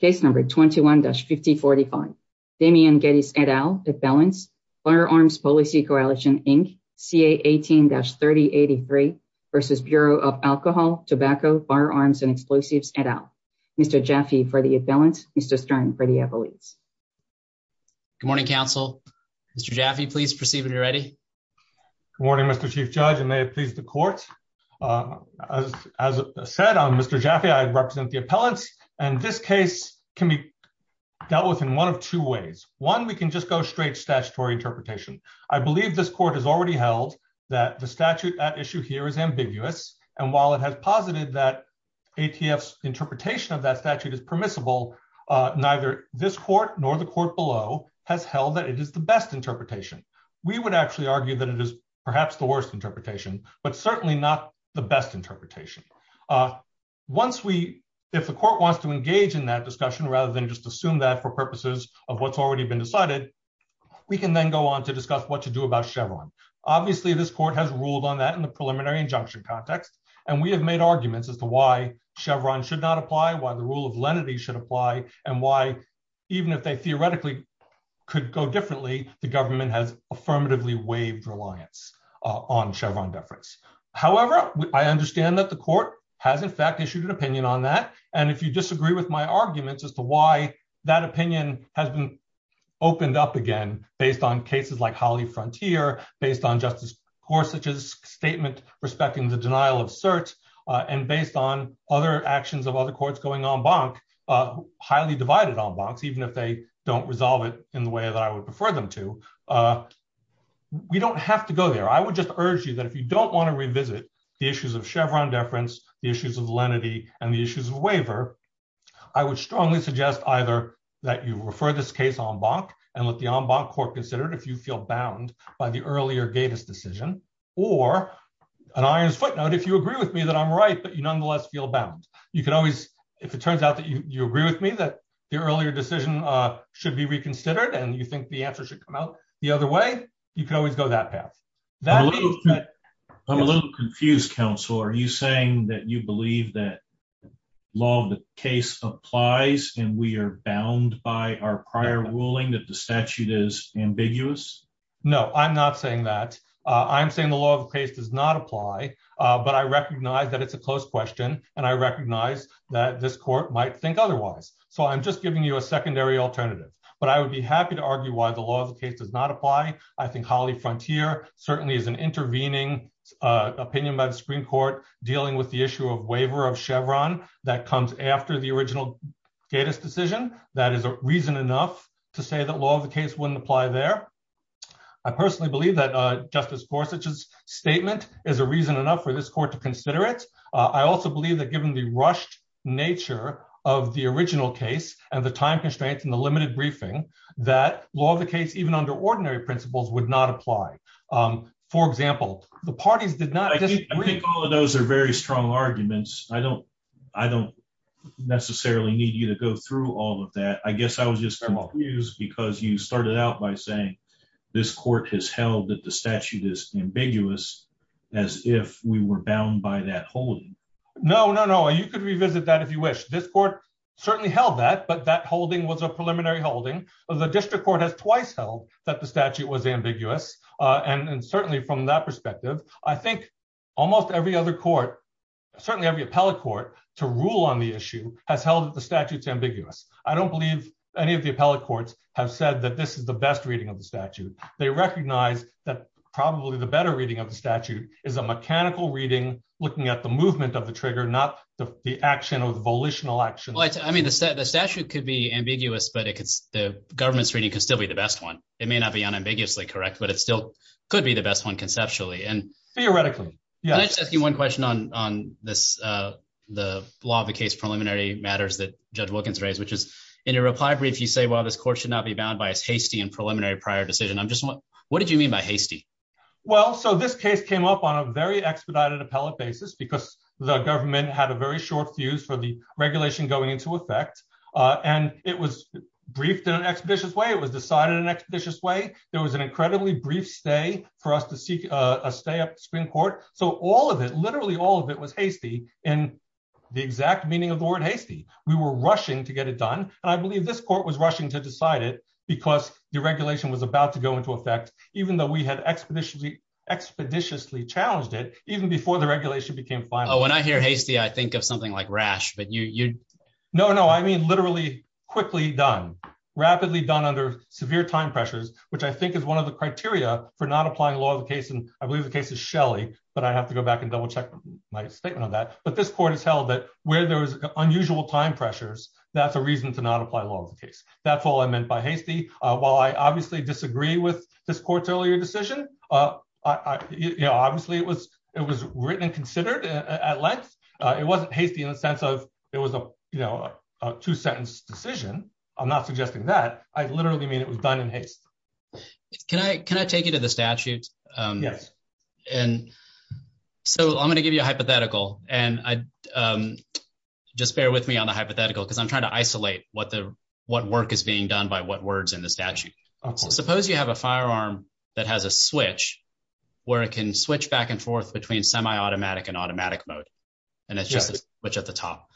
Case number 21-5045, Damien Guedes, et al., appellant, Firearms Policy Coalition, Inc., CA 18-3083, v. Bureau of Alcohol, Tobacco, Firearms, and Explosives, et al., Mr. Jaffe for the appellant, Mr. Stern for the appellant. Good morning, counsel. Mr. Jaffe, please proceed when you're ready. Good morning, Mr. Chief Judge, and may it please the court. As said, I'm Mr. Jaffe. I represent the appellants, and this case can be dealt with in one of two ways. One, we can just go straight to statutory interpretation. I believe this court has already held that the statute at issue here is ambiguous, and while it has posited that ATF's interpretation of that statute is permissible, neither this court nor the court below has held that it is the best interpretation. We would actually argue that it is perhaps the worst interpretation, but certainly not the best interpretation. If the court wants to engage in that discussion rather than just assume that for purposes of what's already been decided, we can then go on to discuss what to do about Chevron. Obviously, this court has ruled on that in the preliminary injunction context, and we have made arguments as to why Chevron should not apply, why the rule of lenity should apply, and why even if they theoretically could go differently, the government has affirmatively waived reliance on Chevron beverage. However, I understand that the court has in fact issued an opinion on that, and if you disagree with my arguments as to why that opinion hasn't opened up again based on cases like Holly Frontier, based on Justice Gorsuch's statement respecting the denial of certs, and based on other actions of other courts going en banc, highly divided en bancs, even if they don't resolve it in the way that I would prefer them to, we don't have to go there. I would just urge you that if you don't want to revisit the issues of Chevron deference, the issues of lenity, and the issues of waiver, I would strongly suggest either that you refer this case en banc and let the en banc court consider it if you feel bound by the earlier Davis decision, or an iron's footnote, if you agree with me that I'm right, but you nonetheless feel bound. If it turns out that you agree with me that the earlier decision should be reconsidered and you think the answer should come out the other way, you can always go that path. I'm a little confused, counsel. Are you saying that you believe that law of the case applies and we are bound by our prior ruling that the statute is ambiguous? No, I'm not saying that. I'm saying the law of the case does not apply, but I recognize that it's a close question, and I recognize that this court might think otherwise. So I'm just giving you a secondary alternative. But I would be happy to argue why the law of the case does not apply. I think Holly Frontier certainly is an intervening opinion by the Supreme Court dealing with the issue of waiver of Chevron that comes after the original Davis decision. That is reason enough to say that law of the case wouldn't apply there. I personally believe that Justice Gorsuch's statement is a reason enough for this court to consider it. I also believe that given the rushed nature of the original case and the time constraints and the limited briefing, that law of the case, even under ordinary principles, would not apply. For example, the parties did not get a brief. I think all of those are very strong arguments. I don't necessarily need you to go through all of that. I guess I was just confused because you started out by saying this court has held that the statute is ambiguous as if we were bound by that holding. No, no, no. You can revisit that if you wish. This court certainly held that, but that holding was a preliminary holding. The district court has twice held that the statute was ambiguous. And certainly from that perspective, I think almost every other court, certainly every appellate court, to rule on the issue has held that the statute is ambiguous. I don't believe any of the appellate courts have said that this is the best reading of the statute. They recognize that probably the better reading of the statute is a mechanical reading, looking at the movement of the trigger, not the action or the volitional action. I mean, the statute could be ambiguous, but the government's reading could still be the best one. It may not be unambiguously correct, but it still could be the best one conceptually. Theoretically, yes. Can I just ask you one question on the law of the case preliminary matters that Judge Wilkins raised, which is in your reply brief you say, well, this court should not be bound by a hasty and preliminary prior decision. What did you mean by hasty? Well, so this case came up on a very expedited appellate basis because the government had a very short fuse for the regulation going into effect. And it was briefed in an expeditious way. It was decided in an expeditious way. There was an incredibly brief stay for us to seek a stay at the Supreme Court. So all of it, literally all of it, was hasty in the exact meaning of the word hasty. We were rushing to get it done. And I believe this court was rushing to decide it because the regulation was about to go into effect, even though we had expeditiously challenged it even before the regulation became final. When I hear hasty, I think of something like rash. No, no, I mean literally quickly done, rapidly done under severe time pressures, which I think is one of the criteria for not applying law of the case. And I believe the case is Shelley, but I have to go back and double check my statement on that. But this court has held that where there was unusual time pressures, that's a reason to not apply law of the case. That's all I meant by hasty. While I obviously disagree with this court's earlier decision, obviously it was written and considered at length. It wasn't hasty in the sense of it was a two-sentence decision. I'm not suggesting that. I literally mean it was done in haste. Can I take you to the statute? Yes. And so I'm going to give you a hypothetical, and just bear with me on the hypothetical because I'm trying to isolate what work is being done by what words in the statute. Suppose you have a firearm that has a switch where it can switch back and forth between semi-automatic and automatic mode. And it's just a switch at the top.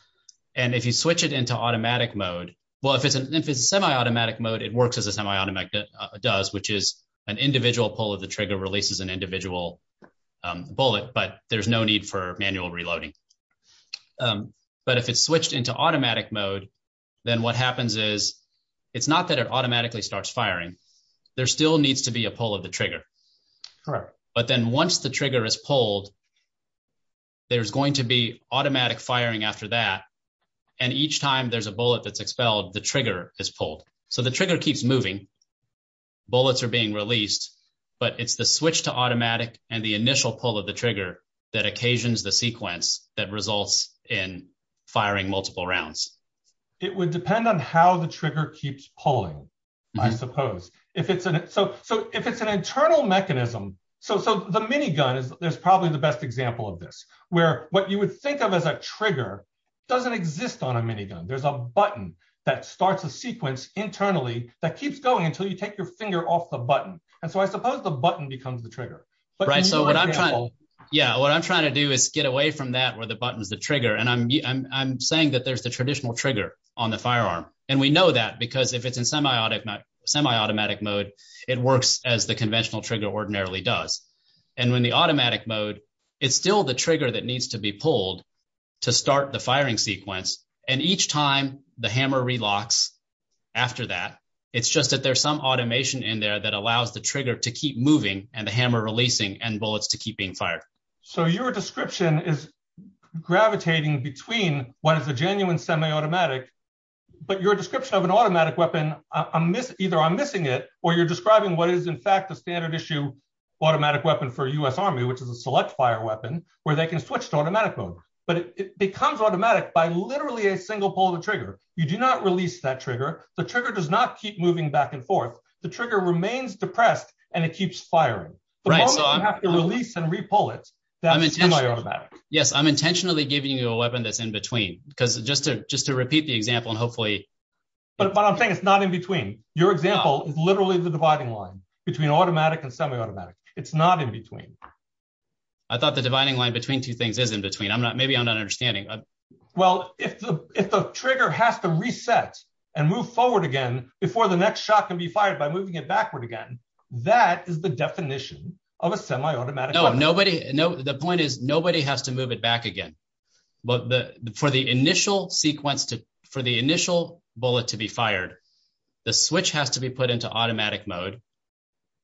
And if you switch it into automatic mode, well, if it's semi-automatic mode, it works as a semi-automatic does, which is an individual pull of the trigger releases an individual bullet, but there's no need for manual reloading. But if it's switched into automatic mode, then what happens is it's not that it automatically starts firing. There still needs to be a pull of the trigger. But then once the trigger is pulled, there's going to be automatic firing after that. And each time there's a bullet that's expelled, the trigger is pulled. So the trigger keeps moving. Bullets are being released. But it's the switch to automatic and the initial pull of the trigger that occasions the sequence that results in firing multiple rounds. It would depend on how the trigger keeps pulling, I suppose. So if it's an internal mechanism, so the minigun is probably the best example of this, where what you would think of as a trigger doesn't exist on a minigun. There's a button that starts a sequence internally that keeps going until you take your finger off the button. And so I suppose the button becomes the trigger. Yeah, what I'm trying to do is get away from that where the button is the trigger. And I'm saying that there's the traditional trigger on the firearm. And we know that because if it's in semi-automatic mode, it works as the conventional trigger ordinarily does. And when the automatic mode, it's still the trigger that needs to be pulled to start the firing sequence. And each time the hammer relocks after that, it's just that there's some automation in there that allows the trigger to keep moving and the hammer releasing and bullets to keep being fired. So your description is gravitating between one of the genuine semi-automatic, but your description of an automatic weapon, either I'm missing it, or you're describing what is in fact the standard issue automatic weapon for U.S. Army, which is a select fire weapon where they can switch to automatic mode. But it becomes automatic by literally a single pull of the trigger. You do not release that trigger. The trigger does not keep moving back and forth. The trigger remains depressed and it keeps firing. The moment you have to release and re-pull it, that's semi-automatic. Yes, I'm intentionally giving you a weapon that's in between because just to repeat the example and hopefully… But I'm saying it's not in between. Your example is literally the dividing line between automatic and semi-automatic. It's not in between. I thought the dividing line between two things is in between. Maybe I'm not understanding. Well, if the trigger has to reset and move forward again before the next shot can be fired by moving it backward again, that is the definition of a semi-automatic weapon. No, the point is nobody has to move it back again. For the initial bullet to be fired, the switch has to be put into automatic mode,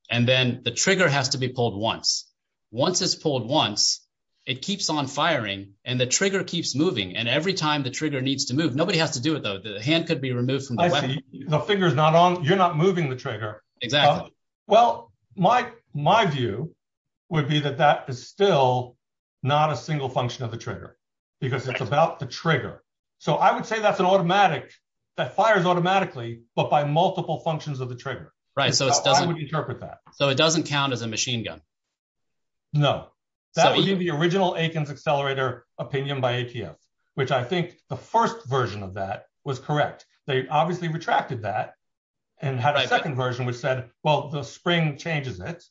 and then the trigger has to be pulled once. Once it's pulled once, it keeps on firing and the trigger keeps moving. And every time the trigger needs to move, nobody has to do it, though. The hand could be removed from the weapon. The finger is not on. You're not moving the trigger. Exactly. Well, my view would be that that is still not a single function of the trigger because it's about the trigger. So I would say that's an automatic that fires automatically but by multiple functions of the trigger. Right. I would interpret that. So it doesn't count as a machine gun? No. That would be the original Akins Accelerator opinion by ATF, which I think the first version of that was correct. They obviously retracted that and had a second version which said, well, the spring changes it.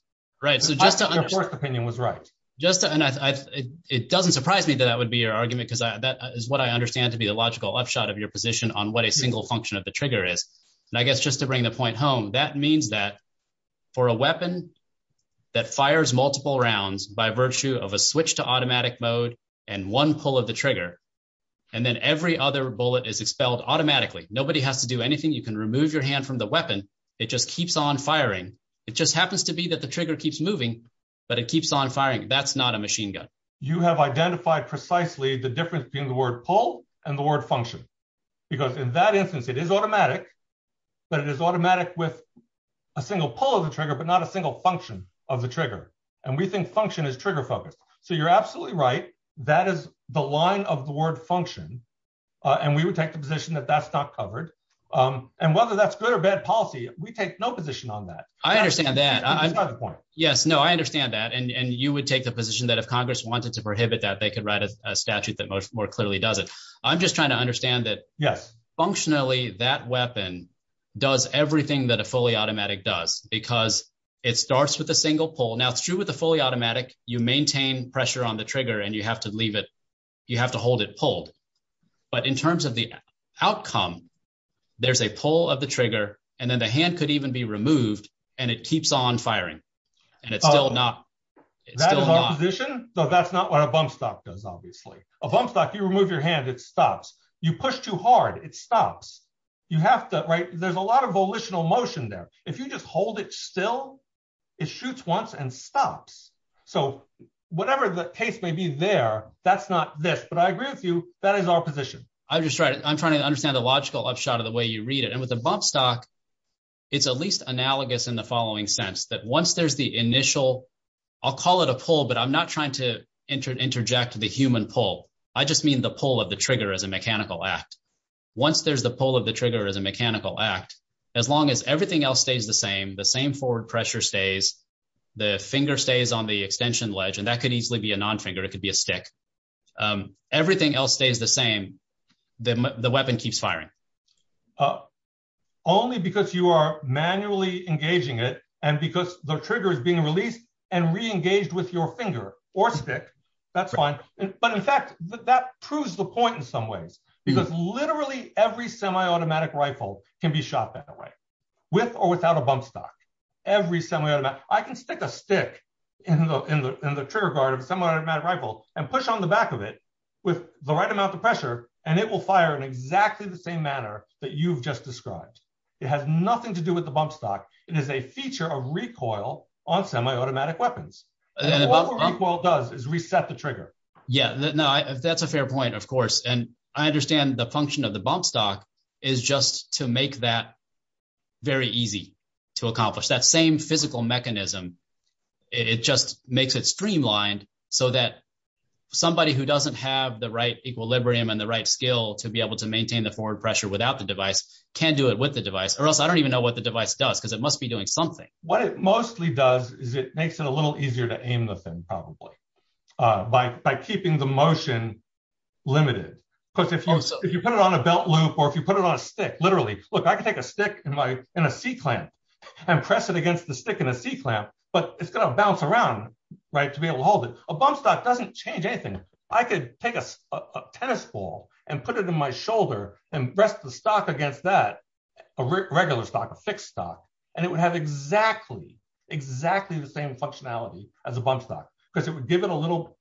Right. I think their first opinion was right. It doesn't surprise me that that would be your argument because that is what I understand to be a logical upshot of your position on what a single function of the trigger is. And I guess just to bring the point home, that means that for a weapon that fires multiple rounds by virtue of a switch to automatic mode and one pull of the trigger and then every other bullet is expelled automatically. Nobody has to do anything. You can remove your hand from the weapon. It just keeps on firing. It just happens to be that the trigger keeps moving but it keeps on firing. That's not a machine gun. You have identified precisely the difference between the word pull and the word function. Because in that instance, it is automatic, but it is automatic with a single pull of the trigger but not a single function of the trigger. And we think function is trigger focused. So you're absolutely right. That is the line of the word function. And we would take the position that that's not covered. And whether that's good or bad policy, we take no position on that. I understand that. Yes, no, I understand that. And you would take the position that if Congress wanted to prohibit that, they could write a statute that more clearly does it. I'm just trying to understand that functionally that weapon does everything that a fully automatic does because it starts with a single pull. Now, true with a fully automatic, you maintain pressure on the trigger and you have to hold it pulled. But in terms of the outcome, there's a pull of the trigger and then the hand could even be removed and it keeps on firing. That is opposition, but that's not what a bump stock does, obviously. A bump stock, you remove your hand, it stops. You push too hard, it stops. There's a lot of volitional motion there. If you just hold it still, it shoots once and stops. So whatever the case may be there, that's not this. But I agree with you, that is opposition. I'm trying to understand the logical upshot of the way you read it. And with a bump stock, it's at least analogous in the following sense, that once there's the initial, I'll call it a pull, but I'm not trying to interject the human pull. I just mean the pull of the trigger as a mechanical act. Once there's a pull of the trigger as a mechanical act, as long as everything else stays the same, the same forward pressure stays, the finger stays on the extension ledge, and that could easily be a non-figure, it could be a stick. Everything else stays the same, the weapon keeps firing. Only because you are manually engaging it and because the trigger is being released and reengaged with your finger or stick, that's fine. But in fact, that proves the point in some ways. Because literally every semi-automatic rifle can be shot that way, with or without a bump stock. I can stick a stick in the trigger guard of a semi-automatic rifle and push on the back of it with the right amount of pressure, and it will fire in exactly the same manner that you've just described. It has nothing to do with the bump stock. It is a feature of recoil on semi-automatic weapons. Yeah, that's a fair point, of course. And I understand the function of the bump stock is just to make that very easy to accomplish. That same physical mechanism, it just makes it streamlined so that somebody who doesn't have the right equilibrium and the right skill to be able to maintain the forward pressure without the device can do it with the device. Or else I don't even know what the device does, because it must be doing something. What it mostly does is it makes it a little easier to aim with them, probably. By keeping the motion limited. If you put it on a belt loop or if you put it on a stick, literally. Look, I can take a stick and a C-clamp and press it against the stick and a C-clamp, but it's going to bounce around to be able to hold it. A bump stock doesn't change anything. I could take a tennis ball and put it in my shoulder and rest the stock against that, a regular stock, a fixed stock, and it would have exactly, exactly the same functionality as a bump stock. Because it would give it a little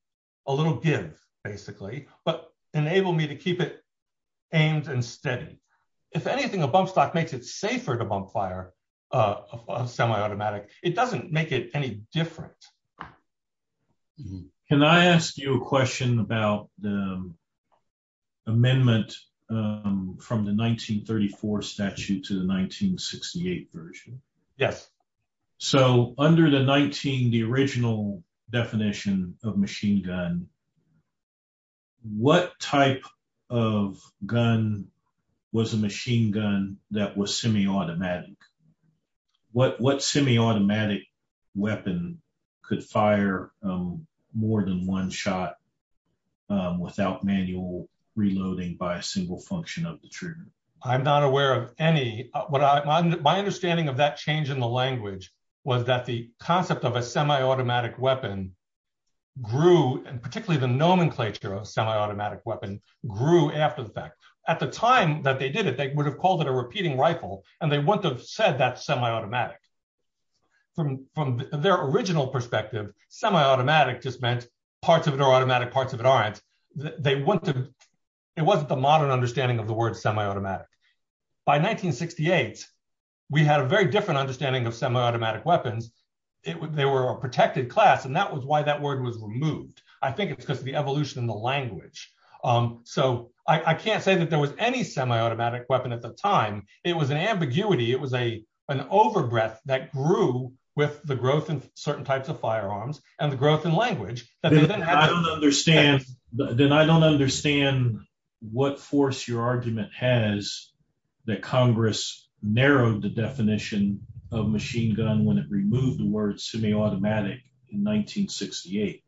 give, basically, but enable me to keep it aimed and steady. If anything, a bump stock makes it safer to bump fire a semi-automatic. It doesn't make it any different. Can I ask you a question about the amendment from the 1934 statute to the 1968 version? Yes. Under the 19, the original definition of machine gun, what type of gun was a machine gun that was semi-automatic? What semi-automatic weapon could fire more than one shot without manual reloading by a single function of the trigger? I'm not aware of any. My understanding of that change in the language was that the concept of a semi-automatic weapon grew, and particularly the nomenclature of semi-automatic weapon grew after the fact. At the time that they did it, they would have called it a repeating rifle, and they wouldn't have said that's semi-automatic. From their original perspective, semi-automatic just meant parts of it are automatic, parts of it aren't. It wasn't the modern understanding of the word semi-automatic. By 1968, we had a very different understanding of semi-automatic weapons. They were a protected class, and that was why that word was removed. I think it's because of the evolution in the language. So I can't say that there was any semi-automatic weapon at the time. It was an ambiguity. It was an overbreath that grew with the growth in certain types of firearms and the growth in language. Then I don't understand what force your argument has that Congress narrowed the definition of machine gun when it removed the word semi-automatic in 1968.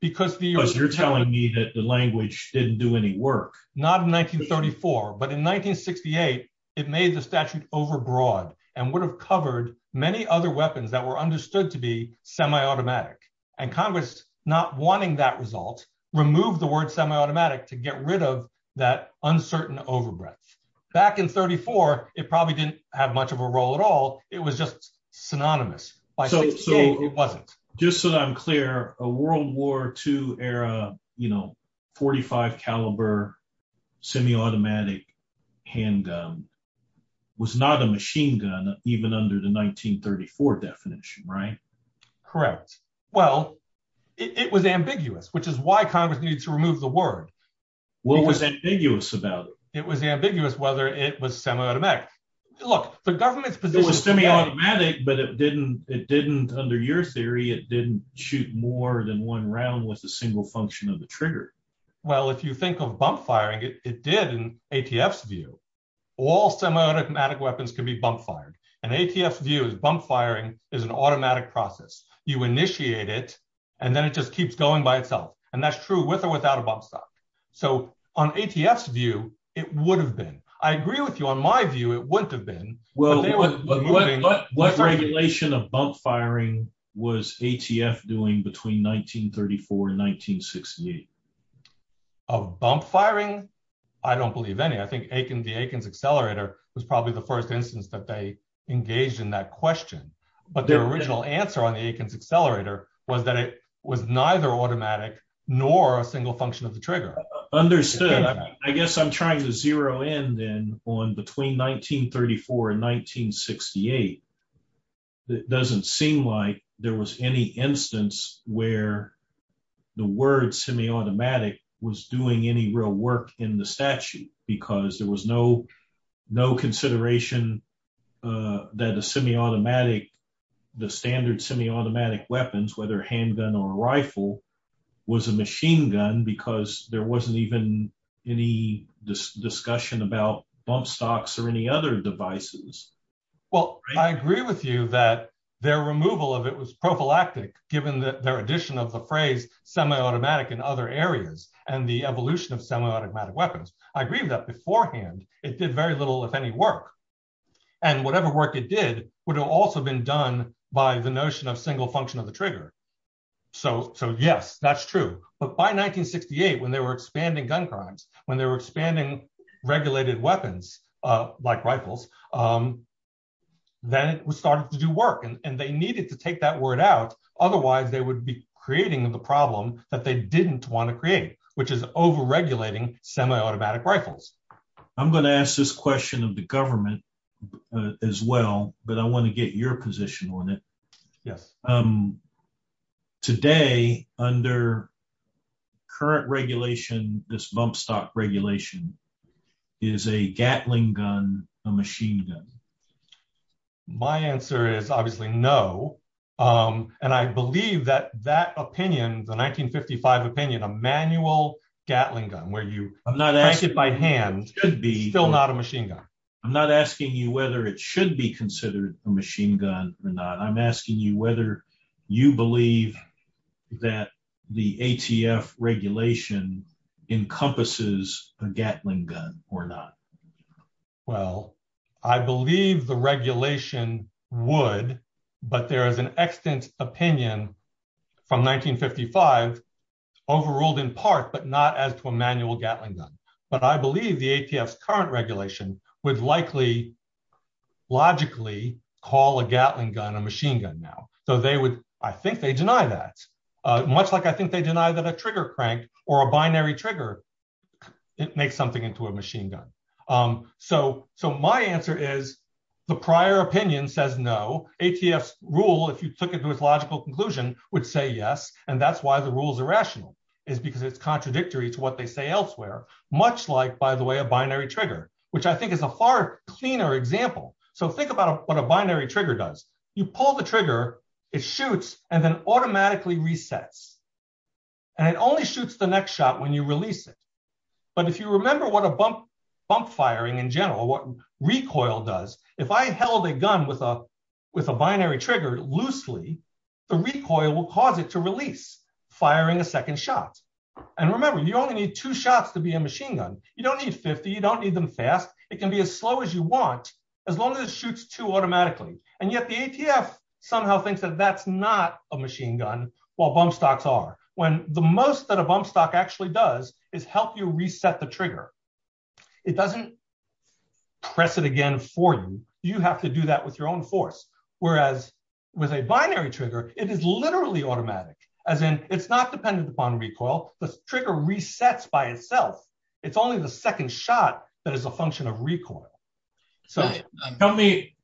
Because you're telling me that the language didn't do any work. Not in 1934, but in 1968, it made the statute overbroad and would have covered many other weapons that were understood to be semi-automatic. Congress, not wanting that result, removed the word semi-automatic to get rid of that uncertain overbreath. Back in 1934, it probably didn't have much of a role at all. It was just synonymous. By 1968, it wasn't. Just so that I'm clear, a World War II era .45 caliber semi-automatic handgun was not a machine gun, even under the 1934 definition, right? Correct. Well, it was ambiguous, which is why Congress needed to remove the word. What was ambiguous about it? It was ambiguous whether it was semi-automatic. It was semi-automatic, but it didn't, under your theory, it didn't shoot more than one round with a single function of the trigger. Well, if you think of bump firing, it did in ATF's view. All semi-automatic weapons can be bump fired. In ATF's view, bump firing is an automatic process. You initiate it, and then it just keeps going by itself. And that's true with or without a bump stop. So, on ATF's view, it would have been. I agree with you. On my view, it wouldn't have been. What regulation of bump firing was ATF doing between 1934 and 1968? Of bump firing? I don't believe any. I think the Atkins Accelerator was probably the first instance that they engaged in that question. But the original answer on the Atkins Accelerator was that it was neither automatic nor a single function of the trigger. Understood. I guess I'm trying to zero in then on between 1934 and 1968. It doesn't seem like there was any instance where the word semi-automatic was doing any real work in the statute. Because there was no consideration that a semi-automatic, the standard semi-automatic weapons, whether handgun or rifle, was a machine gun. Because there wasn't even any discussion about bump stops or any other devices. Well, I agree with you that their removal of it was prophylactic, given their addition of the phrase semi-automatic in other areas and the evolution of semi-automatic weapons. I agree with that beforehand. It did very little, if any, work. And whatever work it did would have also been done by the notion of single function of the trigger. So, yes, that's true. But by 1968, when they were expanding gun crimes, when they were expanding regulated weapons like rifles, then it started to do work. And they needed to take that word out. Otherwise, they would be creating the problem that they didn't want to create, which is over-regulating semi-automatic rifles. I'm going to ask this question of the government as well, but I want to get your position on it. Yes. Today, under current regulation, this bump stop regulation, is a Gatling gun a machine gun? My answer is obviously no. And I believe that that opinion, the 1955 opinion, a manual Gatling gun, where you pack it by hand, is still not a machine gun. I'm not asking you whether it should be considered a machine gun or not. I'm asking you whether you believe that the ATF regulation encompasses a Gatling gun or not. Well, I believe the regulation would, but there is an extant opinion from 1955, overruled in part, but not as to a manual Gatling gun. But I believe the ATF's current regulation would likely, logically, call a Gatling gun a machine gun now. So they would – I think they deny that. Much like I think they deny that a trigger crank or a binary trigger makes something into a machine gun. So my answer is the prior opinion says no. ATF's rule, if you took it to its logical conclusion, would say yes. And that's why the rule is irrational, is because it's contradictory to what they say elsewhere. Much like, by the way, a binary trigger, which I think is a far cleaner example. So think about what a binary trigger does. You pull the trigger, it shoots, and then automatically resets. And it only shoots the next shot when you release it. But if you remember what a bump firing in general, what recoil does, if I held a gun with a binary trigger loosely, the recoil will cause it to release, firing a second shot. And remember, you only need two shots to be a machine gun. You don't need 50, you don't need them fast. It can be as slow as you want, as long as it shoots two automatically. And yet the ATF somehow thinks that that's not a machine gun, while bump stocks are. When the most that a bump stock actually does is help you reset the trigger. It doesn't press it again for you. You have to do that with your own force. Whereas with a binary trigger, it is literally automatic. As in, it's not dependent upon recoil. The trigger resets by itself. It's only the second shot that is a function of recoil. Help me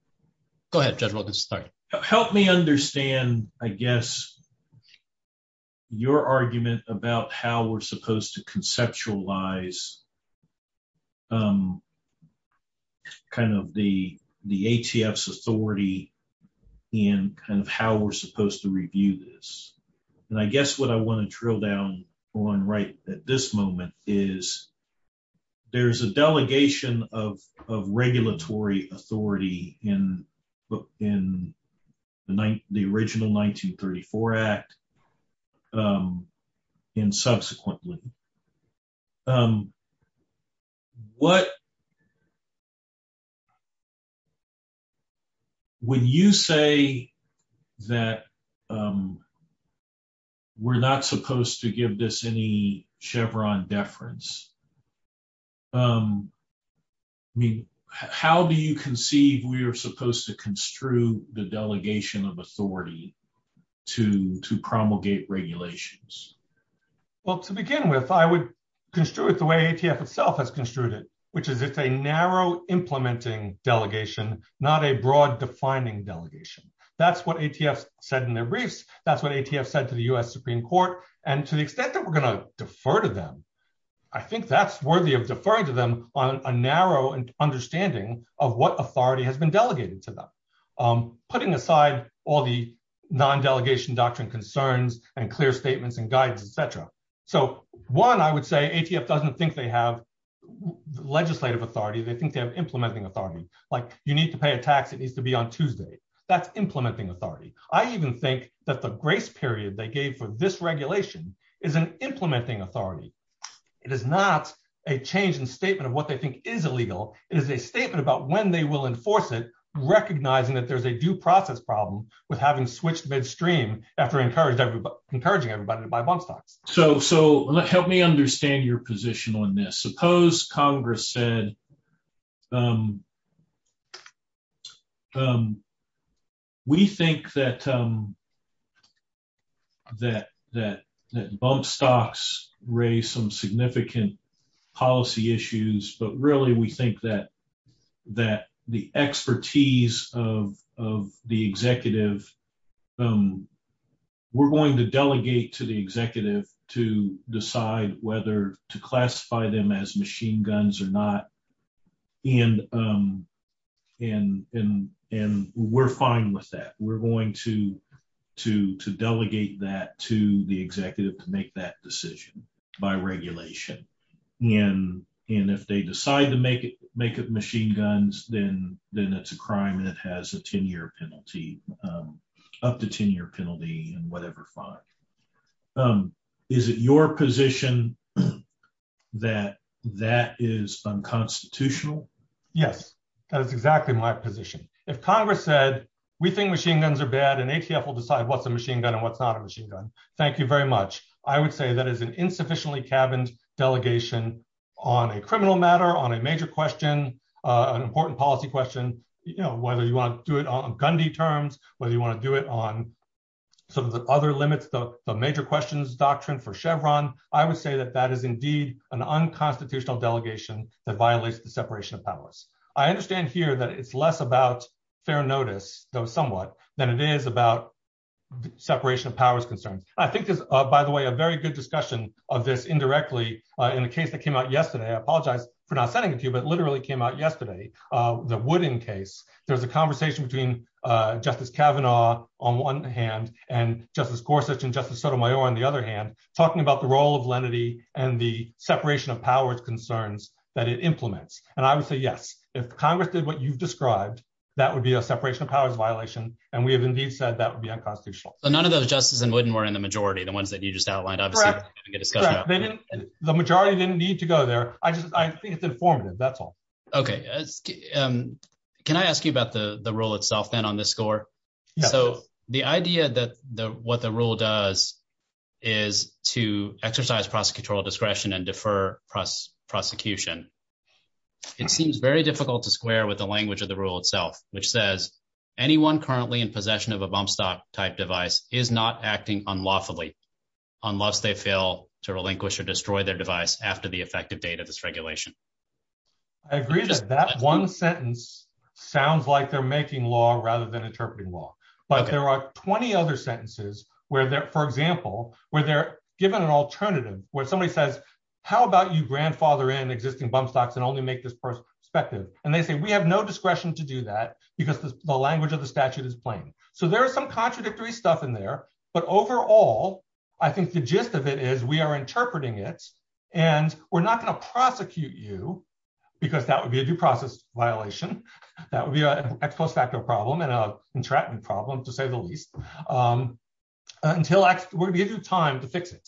understand, I guess, your argument about how we're supposed to conceptualize kind of the ATF's authority and kind of how we're supposed to review this. And I guess what I want to drill down on right at this moment is there's a delegation of regulatory authority in the original 1934 Act and subsequently. When you say that we're not supposed to give this any Chevron deference, how do you conceive we are supposed to construe the delegation of authority to promulgate regulations? Well, to begin with, I would construe it the way ATF itself has construed it, which is it's a narrow implementing delegation, not a broad defining delegation. That's what ATF said in their briefs. That's what ATF said to the U.S. Supreme Court. And to the extent that we're going to defer to them, I think that's worthy of deferring to them on a narrow understanding of what authority has been delegated to them. Putting aside all the non-delegation doctrine concerns and clear statements and guidance, et cetera. So, one, I would say ATF doesn't think they have legislative authority. They think they have implementing authority. Like, you need to pay a tax that needs to be on Tuesday. That's implementing authority. I even think that the grace period they gave for this regulation is an implementing authority. It is not a change in statement of what they think is illegal. It is a statement about when they will enforce it, recognizing that there's a due process problem with having to switch to midstream after encouraging everybody to buy bump stocks. So, help me understand your position on this. Suppose Congress said, we think that bump stocks raise some significant policy issues, but really we think that the expertise of the executive, we're going to delegate to the executive to decide whether to classify them as machine guns or not, and we're fine with that. We're going to delegate that to the executive to make that decision by regulation. And if they decide to make it machine guns, then it's a crime that has a 10-year penalty, up to 10-year penalty and whatever fine. Is it your position that that is unconstitutional? Yes, that is exactly my position. If Congress said, we think machine guns are bad and ACF will decide what's a machine gun and what's not a machine gun, thank you very much. I would say that is an insufficiently cabined delegation on a criminal matter, on a major question, an important policy question. Whether you want to do it on Gundy terms, whether you want to do it on some of the other limits, the major questions doctrine for Chevron, I would say that that is indeed an unconstitutional delegation that violates the separation of powers. I understand here that it's less about fair notice, though somewhat, than it is about separation of powers concern. I think there's, by the way, a very good discussion of this indirectly in the case that came out yesterday. I apologize for not sending it to you, but it literally came out yesterday, the Wooden case. There's a conversation between Justice Kavanaugh on one hand and Justice Gorsuch and Justice Sotomayor on the other hand, talking about the role of lenity and the separation of powers concerns that it implements. And I would say, yes, if Congress did what you described, that would be a separation of powers violation, and we have indeed said that would be unconstitutional. None of those, Justice Glidden, were in the majority, the ones that you just outlined. Correct. The majority didn't need to go there. It's informative, that's all. Okay. Can I ask you about the rule itself then on this score? So, the idea that what the rule does is to exercise prosecutorial discretion and defer prosecution. It seems very difficult to square with the language of the rule itself, which says anyone currently in possession of a bump stop type device is not acting unlawfully unless they fail to relinquish or destroy their device after the effective date of its regulation. I agree that that one sentence sounds like they're making law rather than interpreting law. But there are 20 other sentences where, for example, where they're given an alternative, where somebody says, how about you grandfather in existing bump stops and only make this perspective? And they say, we have no discretion to do that because the language of the statute is plain. So, there is some contradictory stuff in there. But overall, I think the gist of it is we are interpreting it, and we're not going to prosecute you because that would be a due process violation. That would be an ex post facto problem and a contraption problem, to say the least, until we give you time to fix it.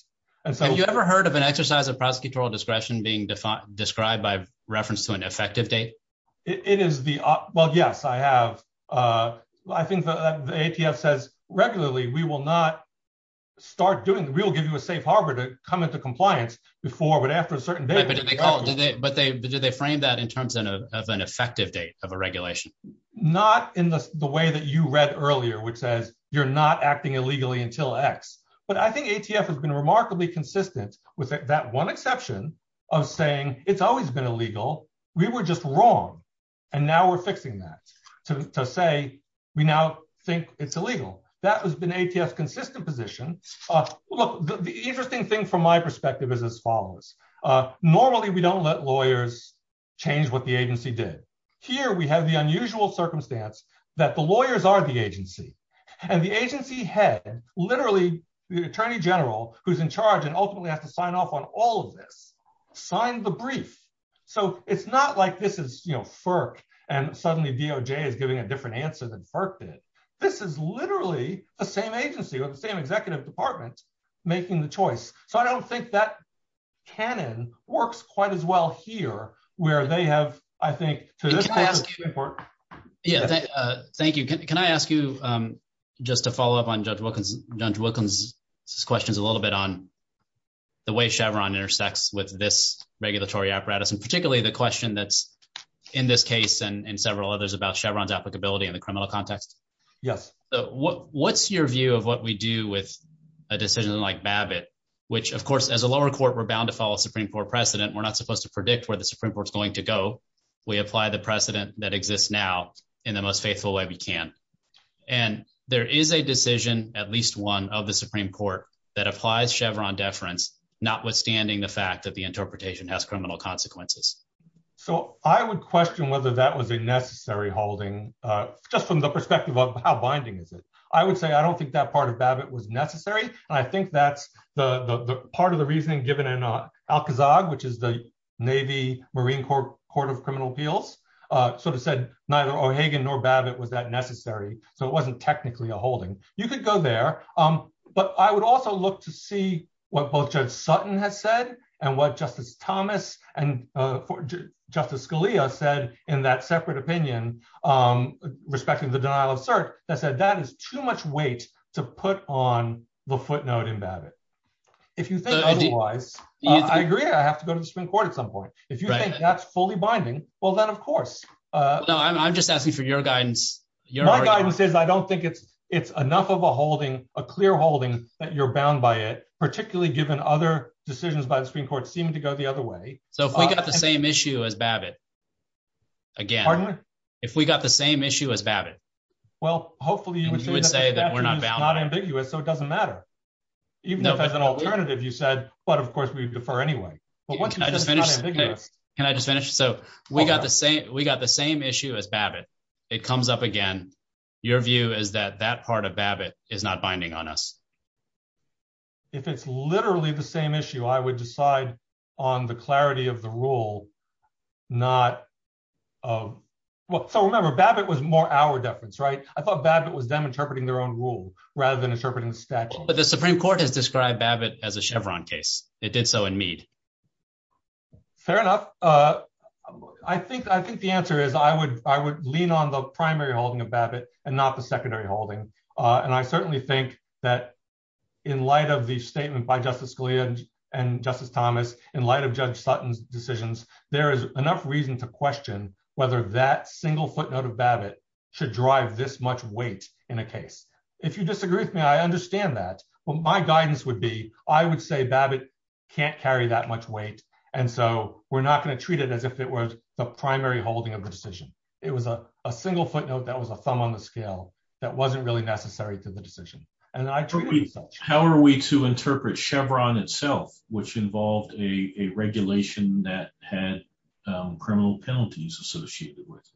Have you ever heard of an exercise of prosecutorial discretion being described by reference to an effective date? Well, yes, I have. I think the ATF says regularly we will not start doing, we will give you a safe harbor to come into compliance before but after a certain date. But did they frame that in terms of an effective date of a regulation? Not in the way that you read earlier, which says you're not acting illegally until X. But I think ATF has been remarkably consistent with that one exception of saying it's always been illegal. We were just wrong. And now we're fixing that to say we now think it's illegal. That has been ATF's consistent position. Look, the interesting thing from my perspective is as follows. Normally, we don't let lawyers change what the agency did. And the agency head, literally the attorney general, who's in charge and ultimately has to sign off on all of this, signed the brief. So it's not like this is FERC and suddenly DOJ is giving a different answer than FERC did. This is literally the same agency with the same executive department making the choice. So I don't think that canon works quite as well here where they have, I think, so this is important. Yeah, thank you. Can I ask you just to follow up on Judge Wilkins' questions a little bit on the way Chevron intersects with this regulatory apparatus, and particularly the question that's in this case and several others about Chevron's applicability in the criminal context? Yes. So what's your view of what we do with a decision like Babbitt, which, of course, as a lower court, we're bound to follow Supreme Court precedent. We're not supposed to predict where the Supreme Court's going to go. We apply the precedent that exists now in the most faithful way we can. And there is a decision, at least one, of the Supreme Court that applies Chevron deference, notwithstanding the fact that the interpretation has criminal consequences. So I would question whether that was a necessary holding, just from the perspective of how binding is this. I would say I don't think that part of Babbitt was necessary. I think that part of the reasoning given in Alcazab, which is the Navy Marine Corps Court of Criminal Appeals, sort of said neither O'Hagan nor Babbitt was that necessary. So it wasn't technically a holding. You could go there. But I would also look to see what both Judge Sutton has said and what Justice Thomas and Justice Scalia said in that separate opinion, respecting the denial of cert, that said that is too much weight to put on the footnote in Babbitt. If you think otherwise, I agree I have to go to the Supreme Court at some point. If you think that's fully binding, well, then, of course. So I'm just asking for your guidance. My guidance is I don't think it's enough of a holding, a clear holding, that you're bound by it, particularly given other decisions by the Supreme Court seem to go the other way. So if we got the same issue as Babbitt, again, if we got the same issue as Babbitt, you would say that we're not bound by it. It's not ambiguous, so it doesn't matter. Even if there's an alternative, you said, but, of course, we defer anyway. Can I just finish? Can I just finish? So we got the same issue as Babbitt. It comes up again. Your view is that that part of Babbitt is not binding on us. If it's literally the same issue, I would decide on the clarity of the rule, not of – so remember, Babbitt was more our deference, right? I thought Babbitt was them interpreting their own rule rather than interpreting the statute. But the Supreme Court has described Babbitt as a Chevron case. They did so in Meade. Fair enough. I think the answer is I would lean on the primary holding of Babbitt and not the secondary holding. And I certainly think that in light of the statement by Justice Scalia and Justice Thomas, in light of Judge Sutton's decisions, there is enough reason to question whether that single footnote of Babbitt should drive this much weight in a case. If you disagree with me, I understand that. But my guidance would be I would say Babbitt can't carry that much weight, and so we're not going to treat it as if it was the primary holding of the decision. It was a single footnote that was a thumb on the scale that wasn't really necessary to the decision. How are we to interpret Chevron itself, which involved a regulation that had criminal penalties associated with it?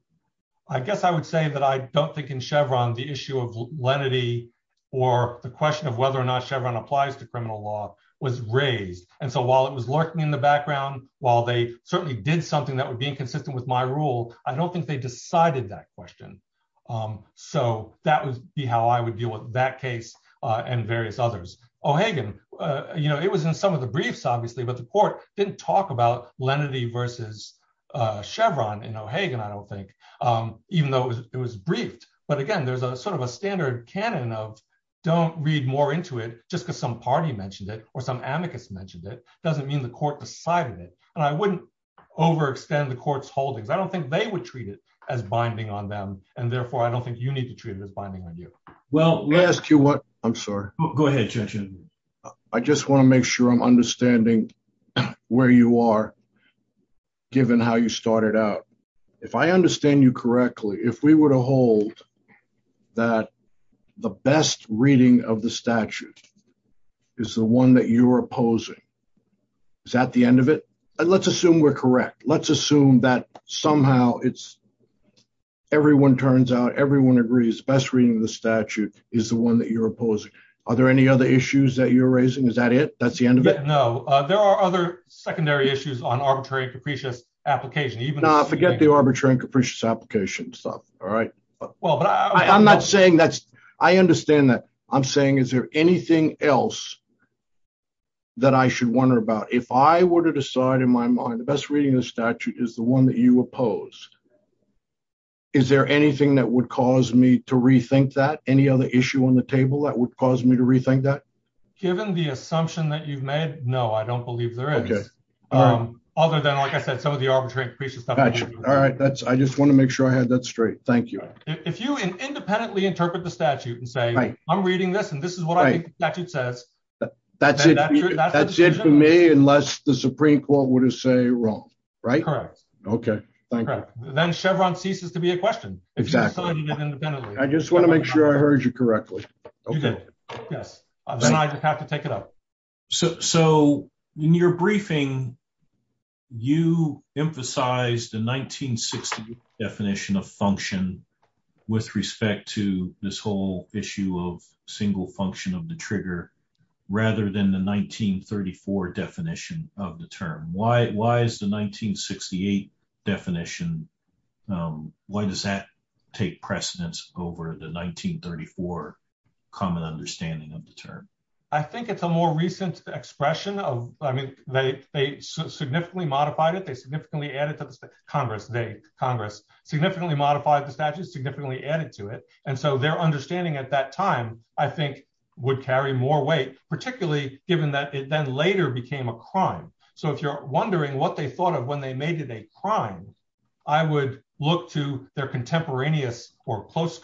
I guess I would say that I don't think in Chevron the issue of lenity or the question of whether or not Chevron applies to criminal law was raised. And so while it was lurking in the background, while they certainly did something that would be consistent with my rule, I don't think they decided that question. So that would be how I would view that case and various others. O'Hagan, you know, it was in some of the briefs, obviously, but the court didn't talk about lenity versus Chevron in O'Hagan, I don't think, even though it was briefed. But again, there's sort of a standard canon of don't read more into it just because some party mentioned it or some advocates mentioned it doesn't mean the court decided it. And I wouldn't overextend the court's holdings. I don't think they would treat it as binding on them, and therefore I don't think you need to treat it as binding on you. Well, let me ask you what – I'm sorry. Go ahead, Judge. I just want to make sure I'm understanding where you are given how you started out. If I understand you correctly, if we were to hold that the best reading of the statute is the one that you're opposing, is that the end of it? Let's assume we're correct. Let's assume that somehow it's – everyone turns out, everyone agrees the best reading of the statute is the one that you're opposing. Are there any other issues that you're raising? Is that it? That's the end of it? No. There are other secondary issues on arbitrary and capricious application. No, forget the arbitrary and capricious application stuff, all right? I'm not saying that's – I understand that. I'm saying is there anything else that I should wonder about? If I were to decide in my mind the best reading of the statute is the one that you oppose, is there anything that would cause me to rethink that? Any other issue on the table that would cause me to rethink that? Given the assumption that you've made, no, I don't believe there is. Okay. Other than, like I said, some of the arbitrary and capricious stuff. All right. I just want to make sure I have that straight. Thank you. If you independently interpret the statute and say, I'm reading this and this is what I think the statute says, is that true? That's it for me unless the Supreme Court would have said you're wrong, right? Correct. Okay. Thank you. Then Chevron ceases to be a question. Exactly. I just want to make sure I heard you correctly. You did. Then I just have to take it up. So in your briefing, you emphasized the 1968 definition of function with respect to this whole issue of single function of the trigger rather than the 1934 definition of the term. Why is the 1968 definition, why does that take precedence over the 1934 common understanding of the term? I think it's a more recent expression. I mean, they significantly modified it. They significantly added to it. Congress significantly modified the statute, significantly added to it. And so their understanding at that time, I think, would carry more weight, particularly given that it then later became a crime. So if you're wondering what they thought of when they made it a crime, I would look to their contemporaneous or close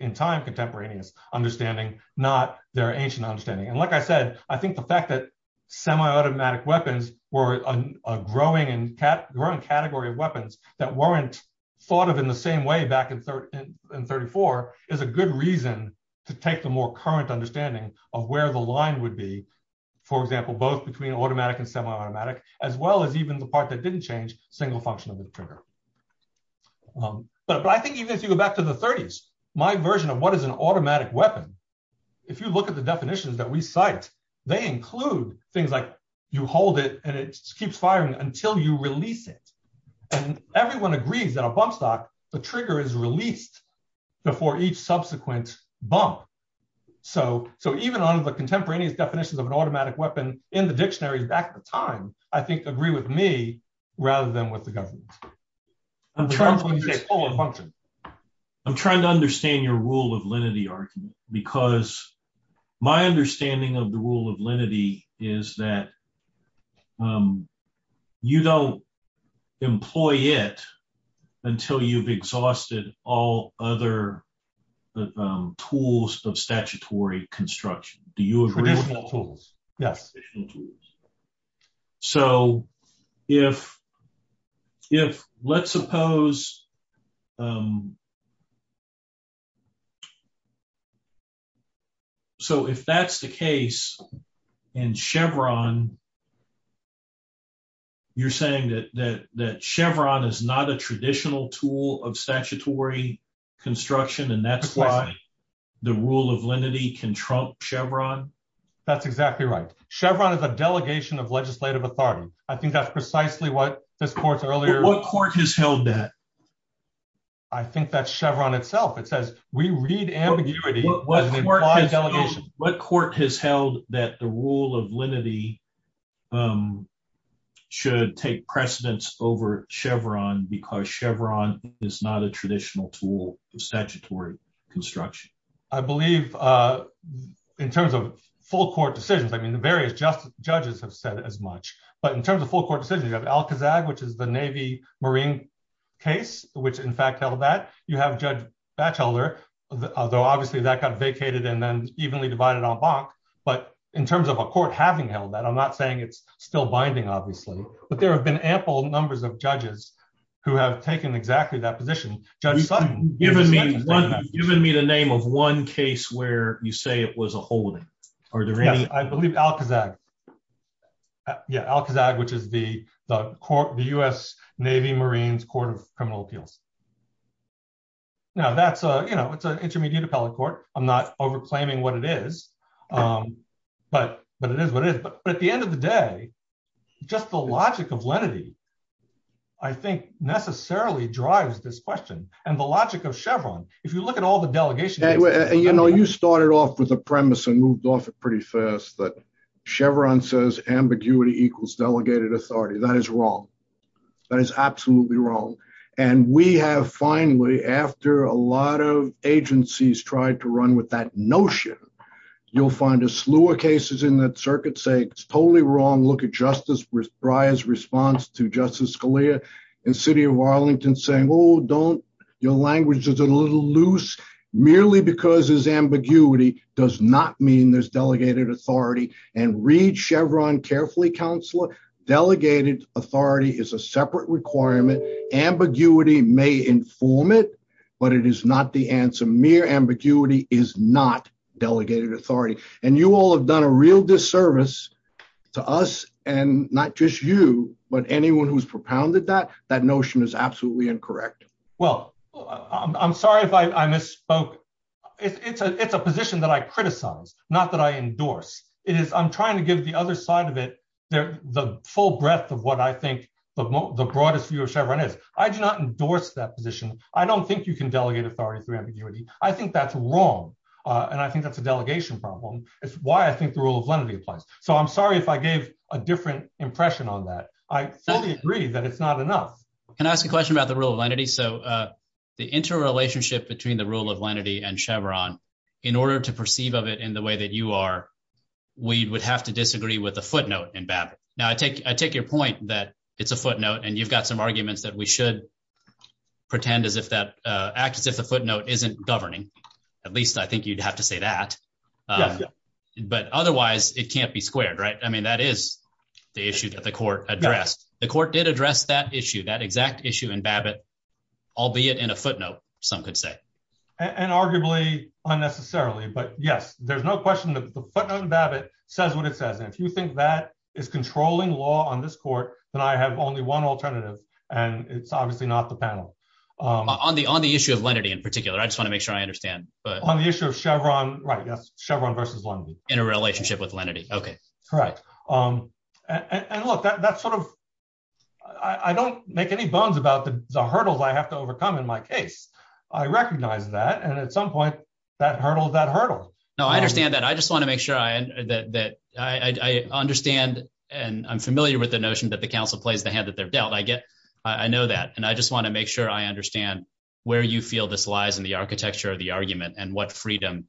in time contemporaneous understanding, not their ancient understanding. And like I said, I think the fact that semi-automatic weapons were a growing category of weapons that weren't thought of in the same way back in 1934 is a good reason to take the more current understanding of where the line would be. For example, both between automatic and semi-automatic, as well as even the part that didn't change, single function of the trigger. But I think even if you go back to the 30s, my version of what is an automatic weapon, if you look at the definitions that we cite, they include things like you hold it and it keeps firing until you release it. And everyone agrees that a bump stop, the trigger is released before each subsequent bump. So even on the contemporaneous definitions of an automatic weapon in the dictionary back at the time, I think agree with me rather than with the government. I'm trying to understand your rule of lenity argument, because my understanding of the rule of lenity is that you don't employ it until you've exhausted all other tools, the traditional tools of statutory construction. So if, let's suppose, so if that's the case in Chevron, you're saying that Chevron is not a traditional tool of statutory construction and that's why the rule of lenity can trump Chevron? That's exactly right. Chevron is a delegation of legislative authority. I think that's precisely what this court earlier... What court has held that? I think that's Chevron itself. It says we read ambiguity... What court has held that the rule of lenity should take precedence over Chevron because Chevron is not a traditional tool of statutory construction? I believe in terms of full court decisions, I mean, the various judges have said as much, but in terms of full court decisions, you have Alcazab, which is the Navy-Marine case, which in fact held that. You have Judge Batchelor, although obviously that got vacated and then evenly divided on Bonk. But in terms of a court having held that, I'm not saying it's still binding, obviously, but there have been ample numbers of judges who have taken exactly that position. You've given me the name of one case where you say it was a holding. I believe Alcazab. Yeah, Alcazab, which is the U.S. Navy-Marine Court of Criminal Appeals. Now, that's an intermediate appellate court. I'm not over-claiming what it is, but it is what it is. But at the end of the day, just the logic of lenity, I think, necessarily drives this question. And the logic of Chevron, if you look at all the delegation... You started off with a premise and moved off pretty fast, but Chevron says ambiguity equals delegated authority. That is wrong. That is absolutely wrong. And we have finally, after a lot of agencies tried to run with that notion, you'll find a slew of cases in that circuit saying it's totally wrong. Look at Justice Breyer's response to Justice Scalia in the city of Arlington saying, oh, don't... Your language is a little loose. Merely because there's ambiguity does not mean there's delegated authority. And read Chevron carefully, counselor. Delegated authority is a separate requirement. Ambiguity may inform it, but it is not the answer. Mere ambiguity is not delegated authority. And you all have done a real disservice to us and not just you, but anyone who's propounded that. That notion is absolutely incorrect. Well, I'm sorry if I misspoke. It's a position that I criticize, not that I endorse. I'm trying to give the other side of it the full breadth of what I think the broadest view of Chevron is. I do not endorse that position. I don't think you can delegate authority through ambiguity. I think that's wrong, and I think that's a delegation problem. It's why I think the rule of lenity applies. So I'm sorry if I gave a different impression on that. I totally agree that it's not enough. Can I ask a question about the rule of lenity? The interrelationship between the rule of lenity and Chevron, in order to perceive of it in the way that you are, we would have to disagree with the footnote in Babbitt. Now, I take I take your point that it's a footnote and you've got some arguments that we should pretend as if that acts as a footnote isn't governing. At least I think you'd have to say that. But otherwise it can't be squared. Right. I mean, that is the issue that the court addressed. The court did address that issue, that exact issue in Babbitt, albeit in a footnote, some could say. And arguably unnecessarily. But, yes, there's no question that the footnote in Babbitt says what it says. If you think that is controlling law on this court, then I have only one alternative, and it's obviously not the panel. On the issue of lenity in particular, I just want to make sure I understand. On the issue of Chevron. Right. Yes. Chevron versus lenity. Interrelationship with lenity. OK. Correct. And look, that's sort of I don't make any bones about the hurdles I have to overcome in my case. I recognize that. And at some point that hurdles that hurdles. No, I understand that. I just want to make sure that I understand and I'm familiar with the notion that the council plays the hand that they're dealt. I get I know that. And I just want to make sure I understand where you feel this lies in the architecture of the argument and what freedom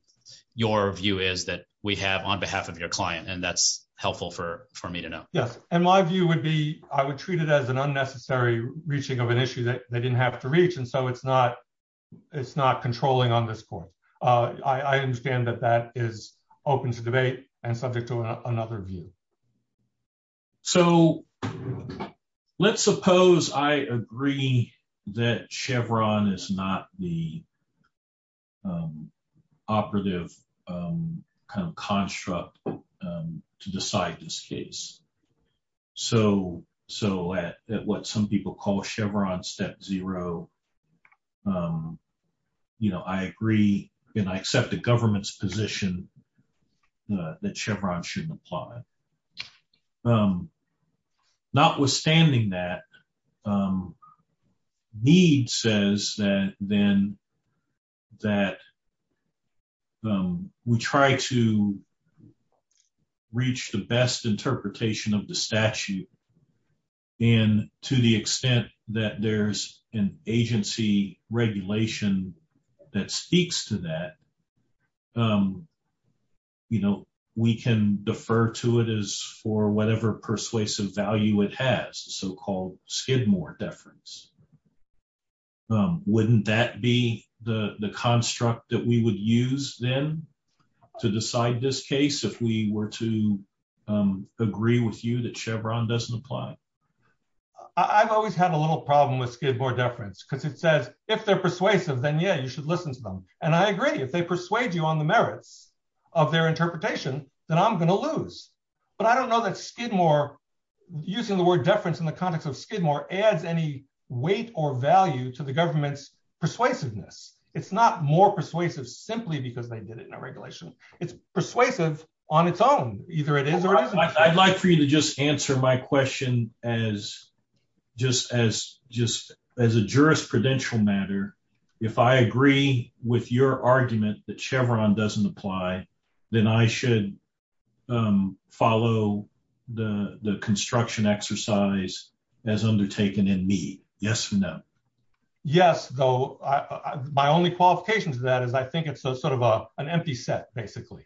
your view is that we have on behalf of your client. And that's helpful for me to know. Yes. And my view would be I would treat it as an unnecessary reaching of an issue that they didn't have to reach. And so it's not it's not controlling on this point. I understand that that is open to debate and subject to another view. So let's suppose I agree that Chevron is not the operative construct to decide this case. So so what some people call Chevron step zero. You know, I agree and I accept the government's position that Chevron shouldn't apply. Notwithstanding that need says that then that we try to reach the best interpretation of the statute and to the extent that there's an agency regulation that speaks to that. You know, we can defer to it is for whatever persuasive value it has so-called skid more deference. Wouldn't that be the construct that we would use then to decide this case if we were to agree with you that Chevron doesn't apply. I've always had a little problem with skid more deference because it says if they're persuasive, then, yeah, you should listen to them. And I agree if they persuade you on the merits of their interpretation that I'm going to lose. But I don't know that skid more using the word deference in the context of skid more adds any weight or value to the government's persuasiveness. It's not more persuasive simply because they did it in a regulation. It's persuasive on its own. I'd like for you to just answer my question as just as just as a jurisprudential matter. If I agree with your argument that Chevron doesn't apply, then I should follow the construction exercise as undertaken in me. Yes or no. Yes, though, my only qualifications of that is I think it's sort of an empty set, basically.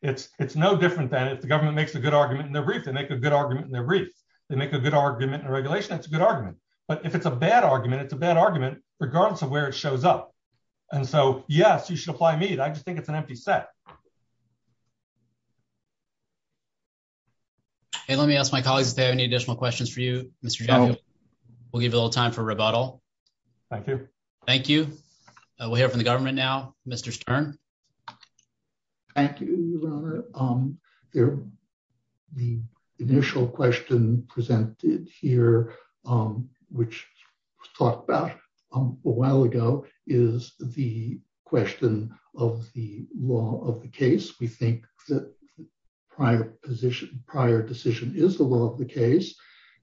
It's no different than if the government makes a good argument in their brief, they make a good argument in their brief. They make a good argument in regulation. It's a good argument. But if it's a bad argument, it's a bad argument regardless of where it shows up. And so, yes, you should apply me. I just think it's an empty set. And let me ask my colleagues if they have any additional questions for you. We'll give a little time for rebuttal. Thank you. Thank you. We have the government now, Mr. Stern. The initial question presented here, which talked about a while ago, is the question of the law of the case. We think that prior position prior decision is the law of the case.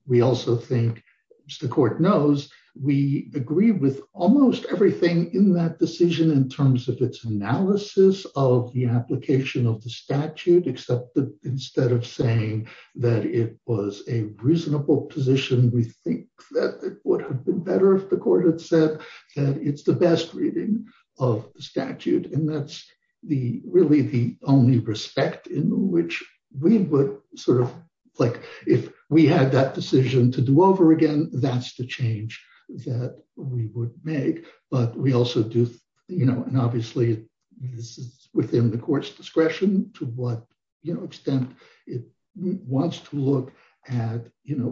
We also think, as the court knows, we agree with almost everything in that decision in terms of its analysis of the application of the statute, except that instead of saying that it was a reasonable position, we think that it would have been better if the court had said it's the best reading of statute. And that's really the only respect in which we would sort of, like, if we had that decision to do over again, that's the change that we would make. But we also do, you know, and obviously this is within the court's discretion to what extent it wants to look at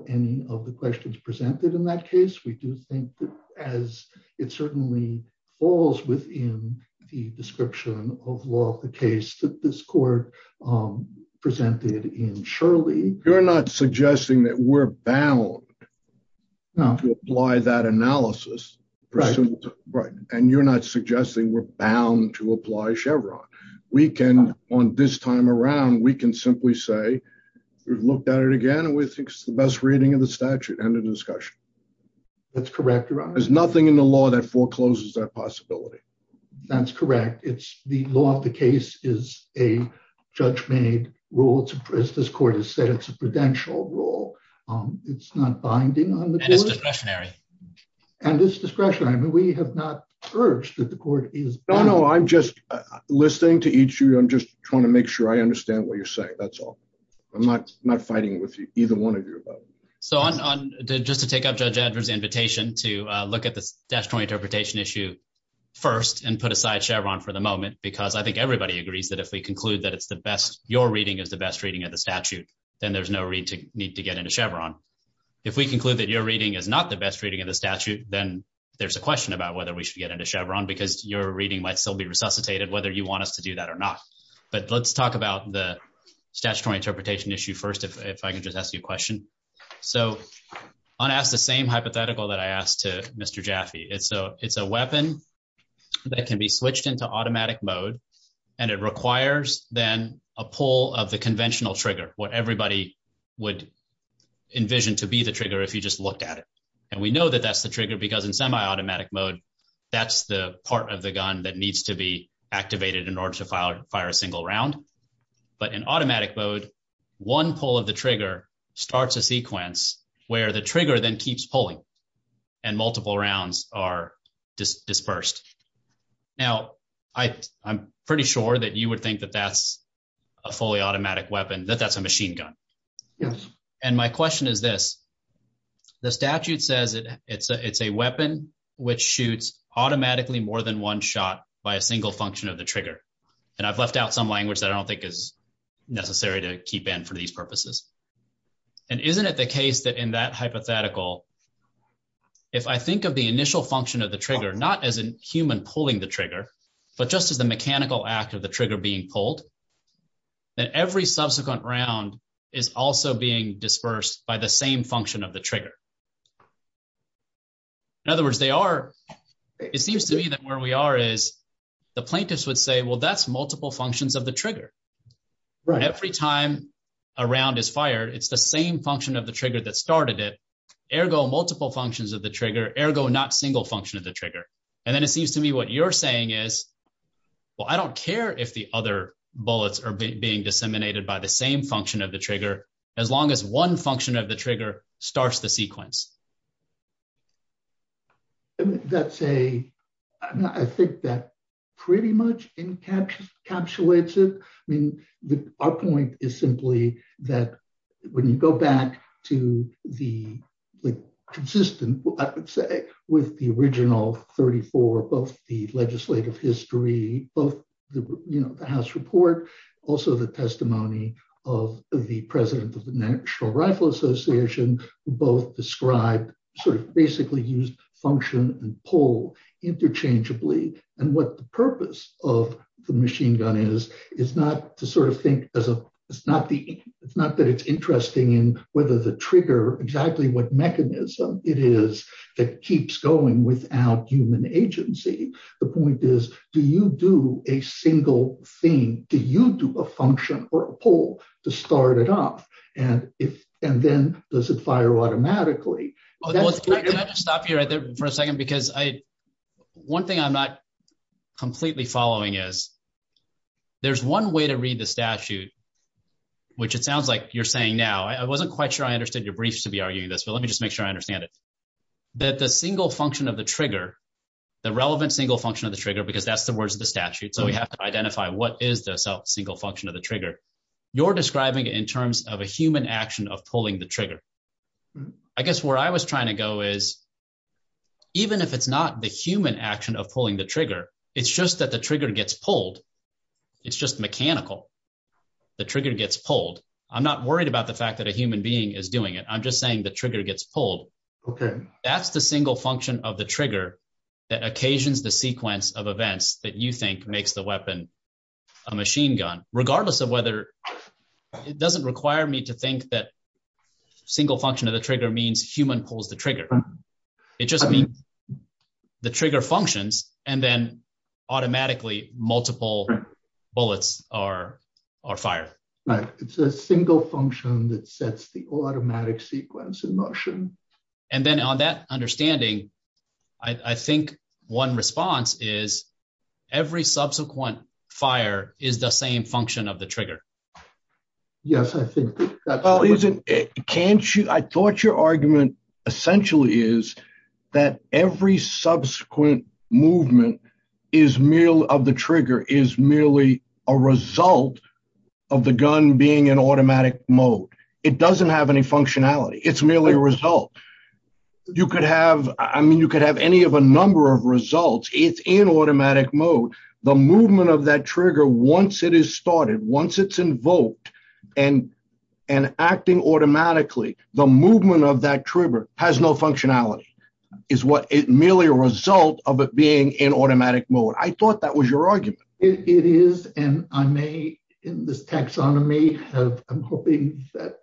any of the questions presented in that case. We do think that as it certainly falls within the description of law of the case that this court presented in Shirley. You're not suggesting that we're bound to apply that analysis. Right. Right. And you're not suggesting we're bound to apply Chevron. We can on this time around, we can simply say we've looked at it again with the best reading of the statute and the discussion. That's correct. There's nothing in the law that forecloses that possibility. That's correct. It's the law of the case is a judge made rule to Chris. This court has said it's a prudential rule. It's not binding on the discretionary and this discretionary. We have not urged that the court is. No, no, I'm just listening to each year. I'm just trying to make sure I understand what you're saying. That's all. I'm not not fighting with either one of you. So just to take up the invitation to look at the interpretation issue first and put aside Chevron for the moment, because I think everybody agrees that if we conclude that it's the best your reading is the best reading of the statute, then there's no need to get into Chevron. If we conclude that your reading is not the best reading of the statute, then there's a question about whether we should get into Chevron because your reading might still be resuscitated, whether you want us to do that or not. But let's talk about the statutory interpretation issue first, if I can just ask you a question. So on the same hypothetical that I asked to Mr. Jaffe, it's a it's a weapon that can be switched into automatic mode. And it requires then a pull of the conventional trigger, what everybody would envision to be the trigger. If you just looked at it and we know that that's the trigger, because in semi automatic mode, that's the part of the gun that needs to be activated in order to fire a single round. But in automatic mode, one pull of the trigger starts a sequence where the trigger then keeps pulling and multiple rounds are dispersed. Now, I'm pretty sure that you would think that that's a fully automatic weapon, that that's a machine gun. And my question is this. The statute says it's a weapon which shoots automatically more than one shot by a single function of the trigger. And I've left out some language that I don't think is necessary to keep in for these purposes. And isn't it the case that in that hypothetical, if I think of the initial function of the trigger, not as a human pulling the trigger, but just as a mechanical act of the trigger being pulled, that every subsequent round is also being dispersed by the same function of the trigger. In other words, they are it seems to me that where we are is the plaintiffs would say, well, that's multiple functions of the trigger. Every time a round is fired, it's the same function of the trigger that started it. Ergo, multiple functions of the trigger. Ergo, not single function of the trigger. And then it seems to me what you're saying is, well, I don't care if the other bullets are being disseminated by the same function of the trigger, as long as one function of the trigger starts the sequence. I think that pretty much encapsulates it. I mean, our point is simply that when you go back to the consistent, I would say, with the original 34, both the legislative history, both the House report, also the testimony of the president of the National Rifle Association, both described sort of basically used function and pull interchangeably. And what the purpose of the machine gun is, is not to sort of think, it's not that it's interesting in whether the trigger, exactly what mechanism it is that keeps going without human agency. The point is, do you do a single thing? Do you do a function or a pull to start it up? And then does it fire automatically? I'm going to have to stop here for a second because one thing I'm not completely following is there's one way to read the statute, which it sounds like you're saying now. I wasn't quite sure I understood your briefs to be arguing this, but let me just make sure I understand it. That the single function of the trigger, the relevant single function of the trigger, because that's the words of the statute, so we have to identify what is the single function of the trigger, you're describing it in terms of a human action of pulling the trigger. I guess where I was trying to go is, even if it's not the human action of pulling the trigger, it's just that the trigger gets pulled. It's just mechanical. The trigger gets pulled. I'm not worried about the fact that a human being is doing it. I'm just saying the trigger gets pulled. Okay. That's the single function of the trigger that occasions the sequence of events that you think makes the weapon a machine gun. Regardless of whether, it doesn't require me to think that single function of the trigger means human pulls the trigger. It just means the trigger functions and then automatically multiple bullets are fired. Right. It's a single function that sets the automatic sequence in motion. Then on that understanding, I think one response is every subsequent fire is the same function of the trigger. Yes, I think that's right. You could have any of a number of results. It's in automatic mode. The movement of that trigger, once it is started, once it's invoked and acting automatically, the movement of that trigger has no functionality. It's merely a result of it being in automatic mode. I thought that was your argument. It is, and I may, in this taxonomy, I'm hoping that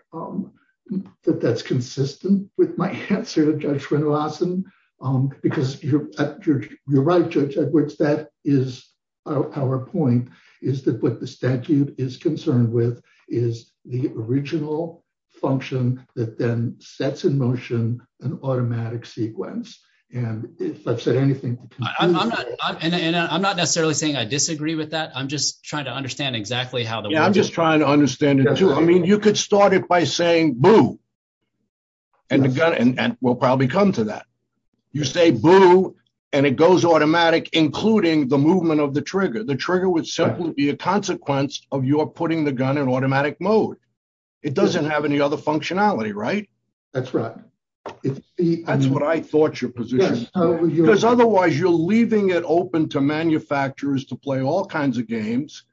that's consistent with my answer, Judge Renderlassen, because you're right, Judge Edwards. That is our point, is that what the statute is concerned with is the original function that then sets in motion an automatic sequence. I'm not necessarily saying I disagree with that. I'm just trying to understand exactly how that works. I'm just trying to understand it, too. I mean, you could start it by saying, boo, and the gun will probably come to that. You say, boo, and it goes automatic, including the movement of the trigger. The trigger would simply be a consequence of your putting the gun in automatic mode. It doesn't have any other functionality, right? That's right. That's what I thought your position was, because otherwise you're leaving it open to manufacturers to play all kinds of games,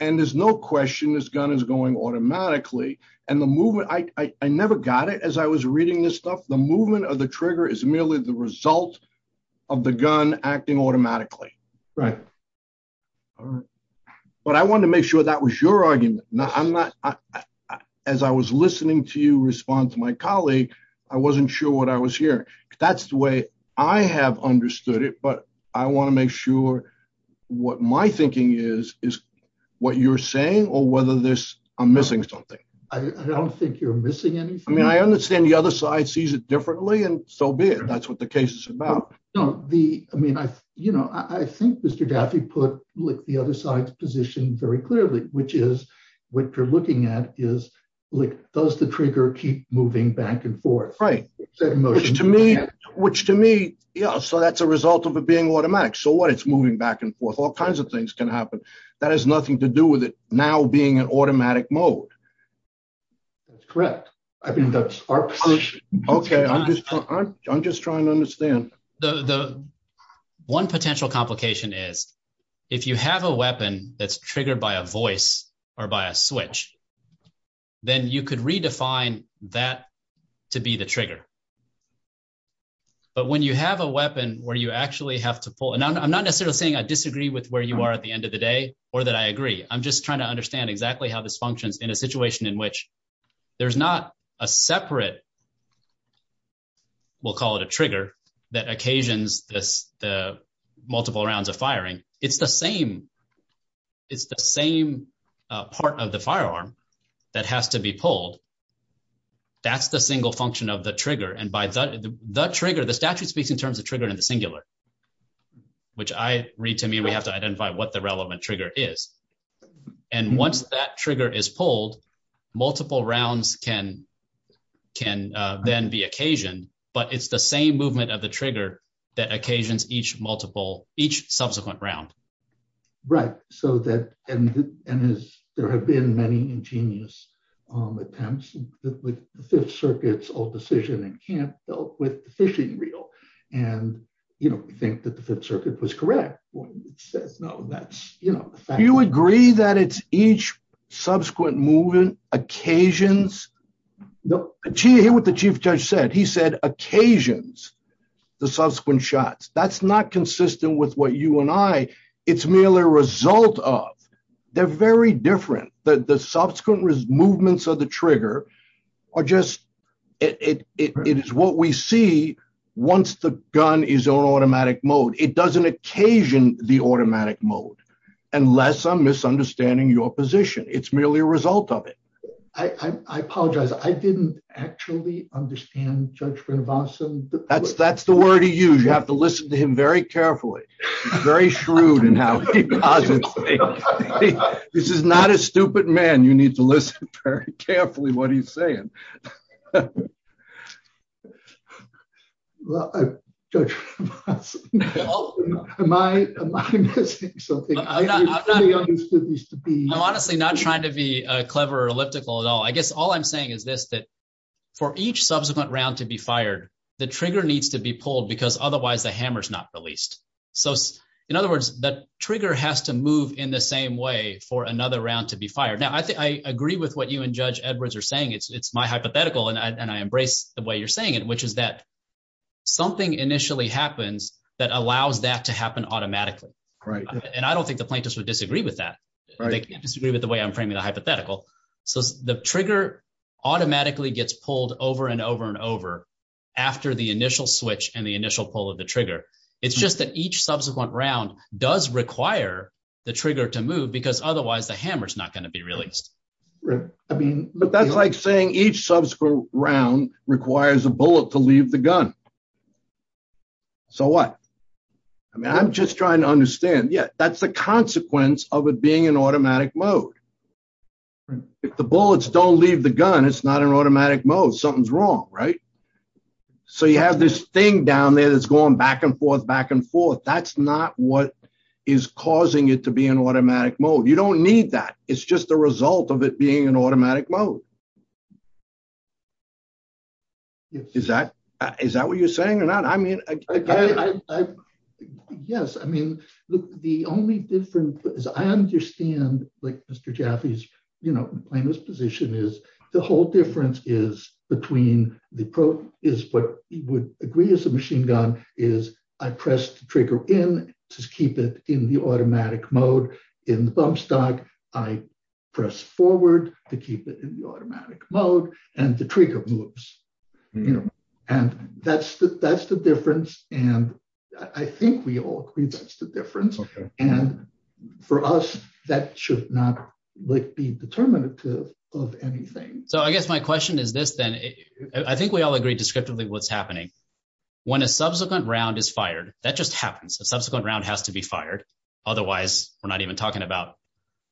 and there's no question this gun is going automatically. I never got it as I was reading this stuff. The movement of the trigger is merely the result of the gun acting automatically. Right. But I wanted to make sure that was your argument. As I was listening to you respond to my colleague, I wasn't sure what I was hearing. That's the way I have understood it, but I want to make sure what my thinking is, is what you're saying or whether I'm missing something. I don't think you're missing anything. I mean, I understand the other side sees it differently, and so be it. That's what the case is about. I think Mr. Gaffey put the other side's position very clearly, which is what you're looking at is, does the trigger keep moving back and forth? Right. Which to me, yeah, so that's a result of it being automatic. So what? It's moving back and forth. All kinds of things can happen. That has nothing to do with it now being in automatic mode. That's correct. I think that's our position. Okay, I'm just I'm just trying to understand the one potential complication is if you have a weapon that's triggered by a voice or by a switch, then you could redefine that to be the trigger. But when you have a weapon where you actually have to pull, and I'm not necessarily saying I disagree with where you are at the end of the day, or that I agree. I'm just trying to understand exactly how this functions in a situation in which there's not a separate. We'll call it a trigger that occasions the multiple rounds of firing. It's the same. It's the same part of the firearm that has to be pulled. That's the single function of the trigger. And by the trigger, the statute speaks in terms of trigger in the singular, which I read to me, we have to identify what the relevant trigger is. And once that trigger is pulled, multiple rounds can can then be occasion, but it's the same movement of the trigger that occasions each multiple each subsequent round. Right, so that, and there have been many ingenious attempts with the Fifth Circuit's old decision and can't help with the fishing reel. And, you know, we think that the Fifth Circuit was correct when it said, no, that's, you know. Do you agree that it's each subsequent movement occasions? Do you hear what the Chief Judge said? He said occasions the subsequent shots. That's not consistent with what you and I, it's merely a result of. They're very different, but the subsequent movements of the trigger are just, it is what we see once the gun is on automatic mode. It doesn't occasion the automatic mode. Unless I'm misunderstanding your position. It's merely a result of it. I apologize. I didn't actually understand Judge Grinabason. That's the word he used. You have to listen to him very carefully. Very shrewd in how he posits things. This is not a stupid man. You need to listen very carefully to what he's saying. I'm honestly not trying to be clever or elliptical at all. I guess all I'm saying is this, that for each subsequent round to be fired, the trigger needs to be pulled because otherwise the hammer's not released. In other words, the trigger has to move in the same way for another round to be fired. Now, I agree with what you and Judge Edwards are saying. It's my hypothetical, and I embrace the way you're saying it, which is that something initially happens that allows that to happen automatically. And I don't think the plaintiffs would disagree with that. They disagree with the way I'm framing the hypothetical. The trigger automatically gets pulled over and over and over after the initial switch and the initial pull of the trigger. It's just that each subsequent round does require the trigger to move because otherwise the hammer's not going to be released. But that's like saying each subsequent round requires a bullet to leave the gun. So what? I'm just trying to understand. Yeah, that's the consequence of it being in automatic mode. If the bullets don't leave the gun, it's not in automatic mode. Something's wrong, right? So you have this thing down there that's going back and forth, back and forth. That's not what is causing it to be in automatic mode. You don't need that. It's just the result of it being in automatic mode. Is that what you're saying or not? Yes. I mean, the only difference is I understand Mr. Jaffee's position is the whole difference is between what you would agree is a machine gun is I press the trigger in to keep it in the automatic mode. In the bump stock, I press forward to keep it in the automatic mode and the trigger moves. And that's the difference. And I think we all agree that's the difference. And for us, that should not be determinative of anything. So, I guess my question is this, then I think we all agree descriptively what's happening when a subsequent round is fired. That just happens. The subsequent round has to be fired. Otherwise, we're not even talking about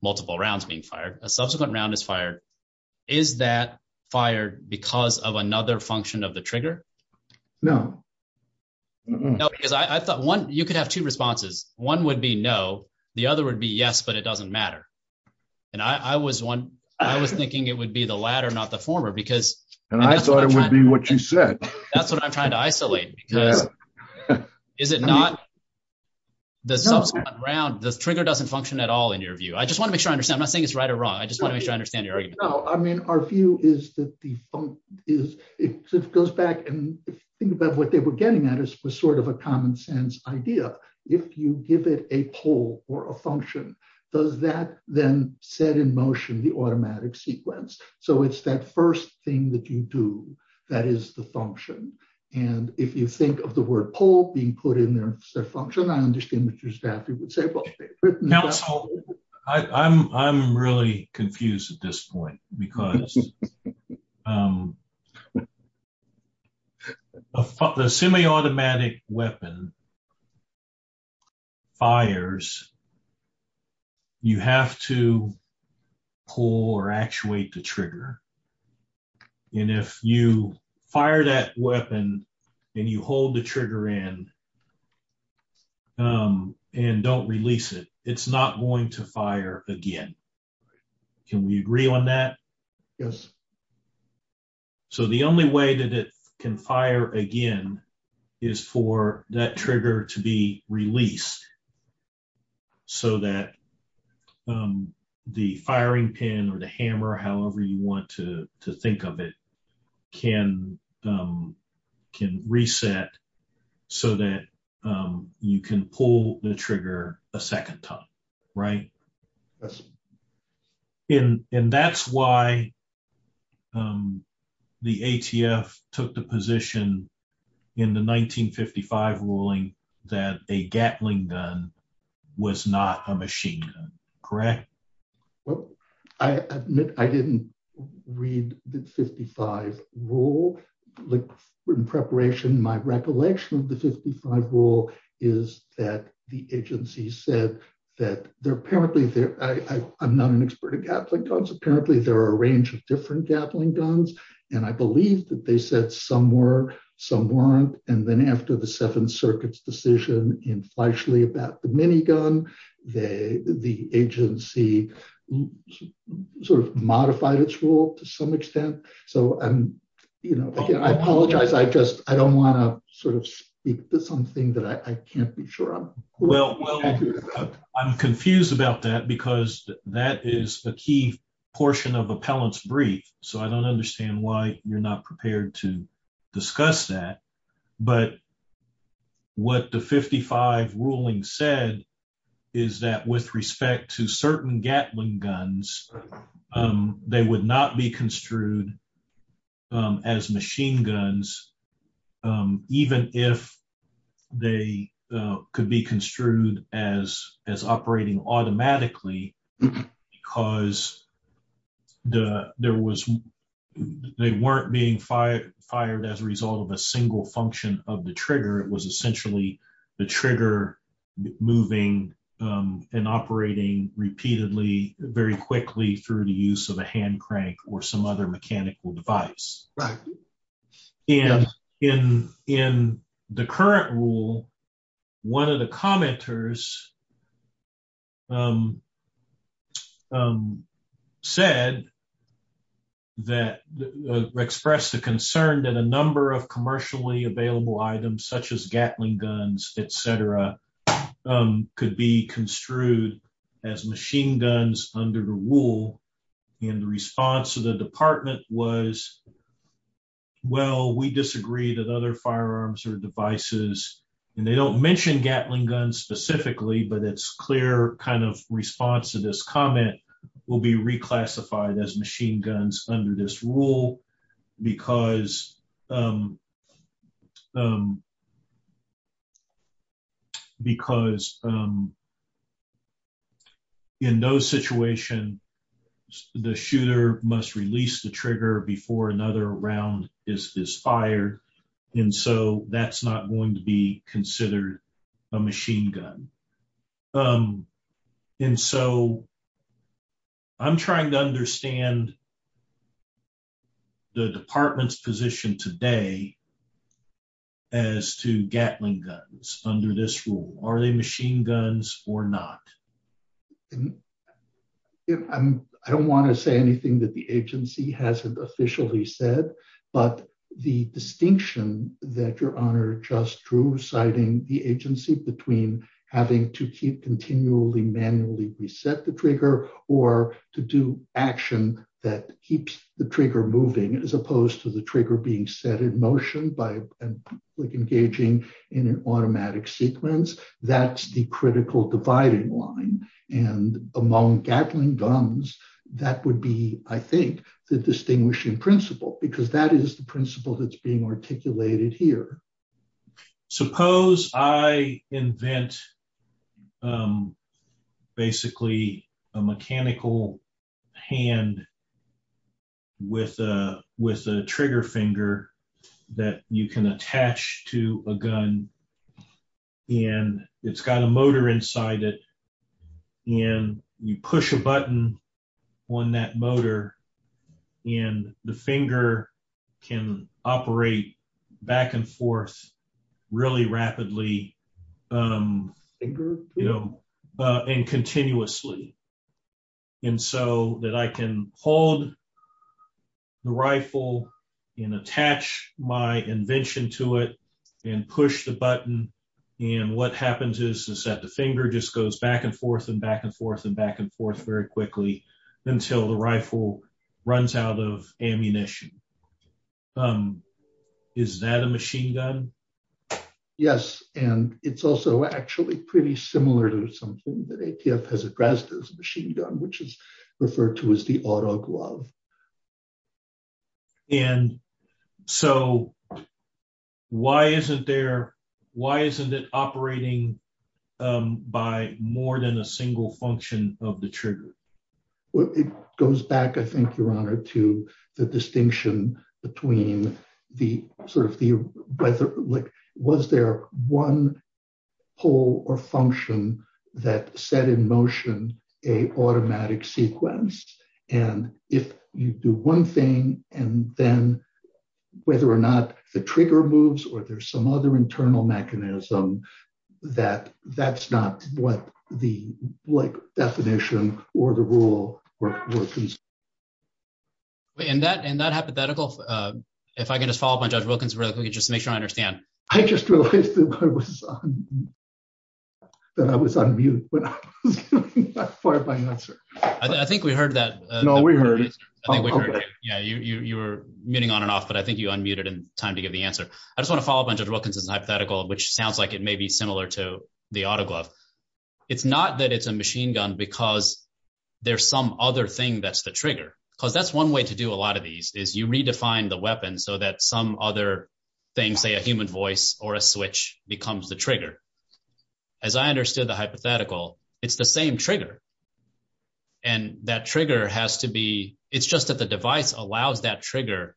multiple rounds being fired. A subsequent round is fired. Is that fired because of another function of the trigger? No. No, because I thought one, you could have two responses. One would be no. The other would be yes, but it doesn't matter. And I was one, I was thinking it would be the latter, not the former because. And I thought it would be what you said. That's what I'm trying to isolate. Yeah. Is it not? The trigger doesn't function at all in your view. I just want to make sure I understand. I'm not saying it's right or wrong. I just want to make sure I understand your argument. No, I mean, our view is that the, it goes back and think about what they were getting at is sort of a common sense idea. If you give it a pull or a function, does that then set in motion the automatic sequence? So, it's that first thing that you do that is the function. And if you think of the word pull being put in there instead of function, I understand that you would say well. I'm really confused at this point because a semi-automatic weapon fires, you have to pull or actuate the trigger. And if you fire that weapon and you hold the trigger in and don't release it, it's not going to fire again. Can we agree on that? Yes. So, the only way that it can fire again is for that trigger to be released so that the firing pin or the hammer, however you want to think of it, can reset so that you can pull the trigger a second time. Right? Yes. And that's why the ATF took the position in the 1955 ruling that a Gatling gun was not a machine gun. Correct? Well, I admit I didn't read the 1955 rule. In preparation, my recollection of the 1955 rule is that the agency said that they're apparently, I'm not an expert in Gatling guns, apparently there are a range of different Gatling guns. And I believe that they said some were, some weren't. And then after the Seventh Circuit's decision in Fleishley about the minigun, the agency sort of modified its rule to some extent. So, I apologize, I just, I don't want to sort of speak to something that I can't be sure of. Well, I'm confused about that because that is a key portion of appellant's brief. So, I don't understand why you're not prepared to discuss that. But what the 1955 ruling said is that with respect to certain Gatling guns, they would not be construed as machine guns, even if they could be construed as operating automatically. Because there was, they weren't being fired as a result of a single function of the trigger. It was essentially the trigger moving and operating repeatedly, very quickly through the use of a hand crank or some other mechanical device. Right. And in the current rule, one of the commenters said that, expressed the concern that a number of commercially available items such as Gatling guns, et cetera, could be construed as machine guns under the rule. And the response to the department was, well, we disagree that other firearms or devices, and they don't mention Gatling guns specifically, but it's clear kind of response to this comment will be reclassified as machine guns under this rule because because in those situations, the shooter must release the trigger before another round is fired. And so that's not going to be considered a machine gun. And so I'm trying to understand the department's position today as to Gatling guns under this rule. Are they machine guns or not? I don't want to say anything that the agency hasn't officially said, but the distinction that your Honor just drew, citing the agency between having to keep continually manually reset the trigger or to do action that keeps the trigger moving as opposed to the trigger being set in motion by engaging in an automatic sequence. That's the critical dividing line. And among Gatling guns, that would be, I think, the distinguishing principle because that is the principle that's being articulated here. Suppose I invent basically a mechanical hand with a trigger finger that you can attach to a gun, and it's got a motor inside it, and you push a button on that motor, and the finger can operate back and forth really rapidly and continuously. And so that I can hold the rifle and attach my invention to it and push the button, and what happens is that the finger just goes back and forth and back and forth and back and forth very quickly until the rifle runs out of ammunition. Is that a machine gun? Yes, and it's also actually pretty similar to something that ATF has at Grasda's machine gun, which is referred to as the auto glove. And so why isn't there, why isn't it operating by more than a single function of the trigger? It goes back, I think, Your Honor, to the distinction between the sort of, was there one pull or function that set in motion an automatic sequence? And if you do one thing, and then And that hypothetical, if I can just follow up on Judge Wilkins briefly, just to make sure I understand. I just realized that I was on mute, but I was doing my part of my answer. I think we heard that. No, we heard it. Yeah, you were muting on and off, but I think you unmuted in time to get the answer. I just want to follow up on Judge Wilkins' hypothetical, which sounds like it may be similar to the auto glove. It's not that it's a machine gun because there's some other thing that's the trigger. Because that's one way to do a lot of these, is you redefine the weapon so that some other thing, say a human voice or a switch, becomes the trigger. As I understood the hypothetical, it's the same trigger. And that trigger has to be, it's just that the device allows that trigger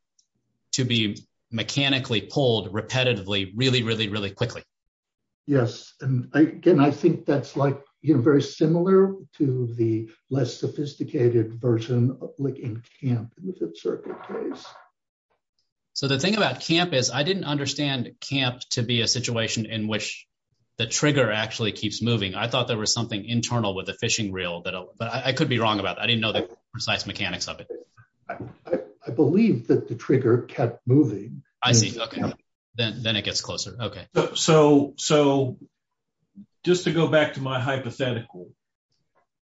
to be mechanically pulled repetitively really, really, really quickly. Yes, and again, I think that's like, you know, very similar to the less sophisticated version of looking at CAMP in a certain place. So the thing about CAMP is, I didn't understand CAMP to be a situation in which the trigger actually keeps moving. I thought there was something internal with a fishing reel, but I could be wrong about it. I didn't know the precise mechanics of it. I believe that the trigger kept moving. Then it gets closer. Okay. So just to go back to my hypothetical.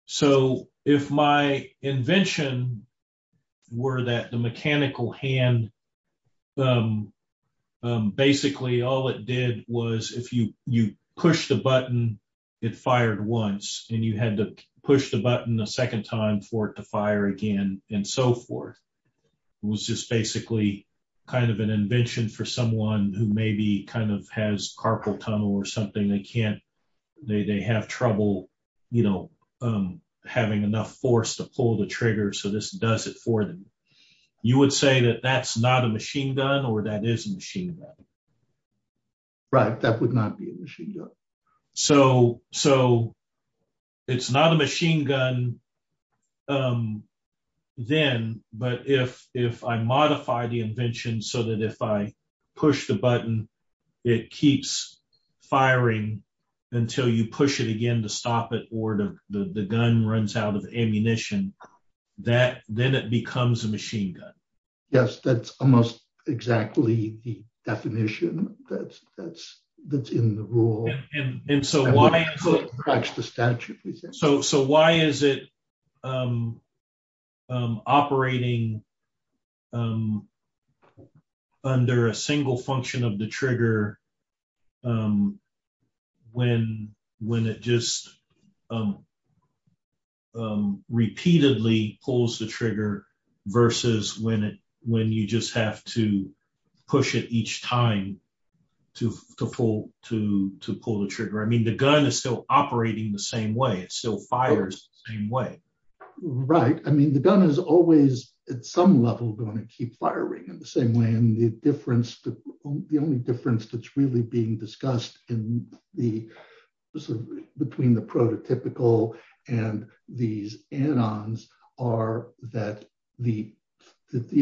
So if my invention were that the mechanical hand, basically all it did was, if you push the button, it fired once. And you had to push the button a second time for it to fire again, and so forth. It was just basically kind of an invention for someone who maybe kind of has carpal tunnel or something, they can't, they have trouble, you know, having enough force to pull the trigger, so this does it for them. You would say that that's not a machine gun or that is a machine gun? Right, that would not be a machine gun. So it's not a machine gun then, but if I modify the invention so that if I push the button, it keeps firing until you push it again to stop it or the gun runs out of ammunition, then it becomes a machine gun. Yes, that's almost exactly the definition that's in the rule. And so why is it operating under a single function of the trigger when it just repeatedly pulls the trigger versus when you just have to push it each time to pull the trigger? I mean, the gun is still operating the same way, it still fires the same way. Right, I mean, the gun is always at some level going to keep firing in the same way. I mean, the only difference that's really being discussed between the prototypical and these anons are that the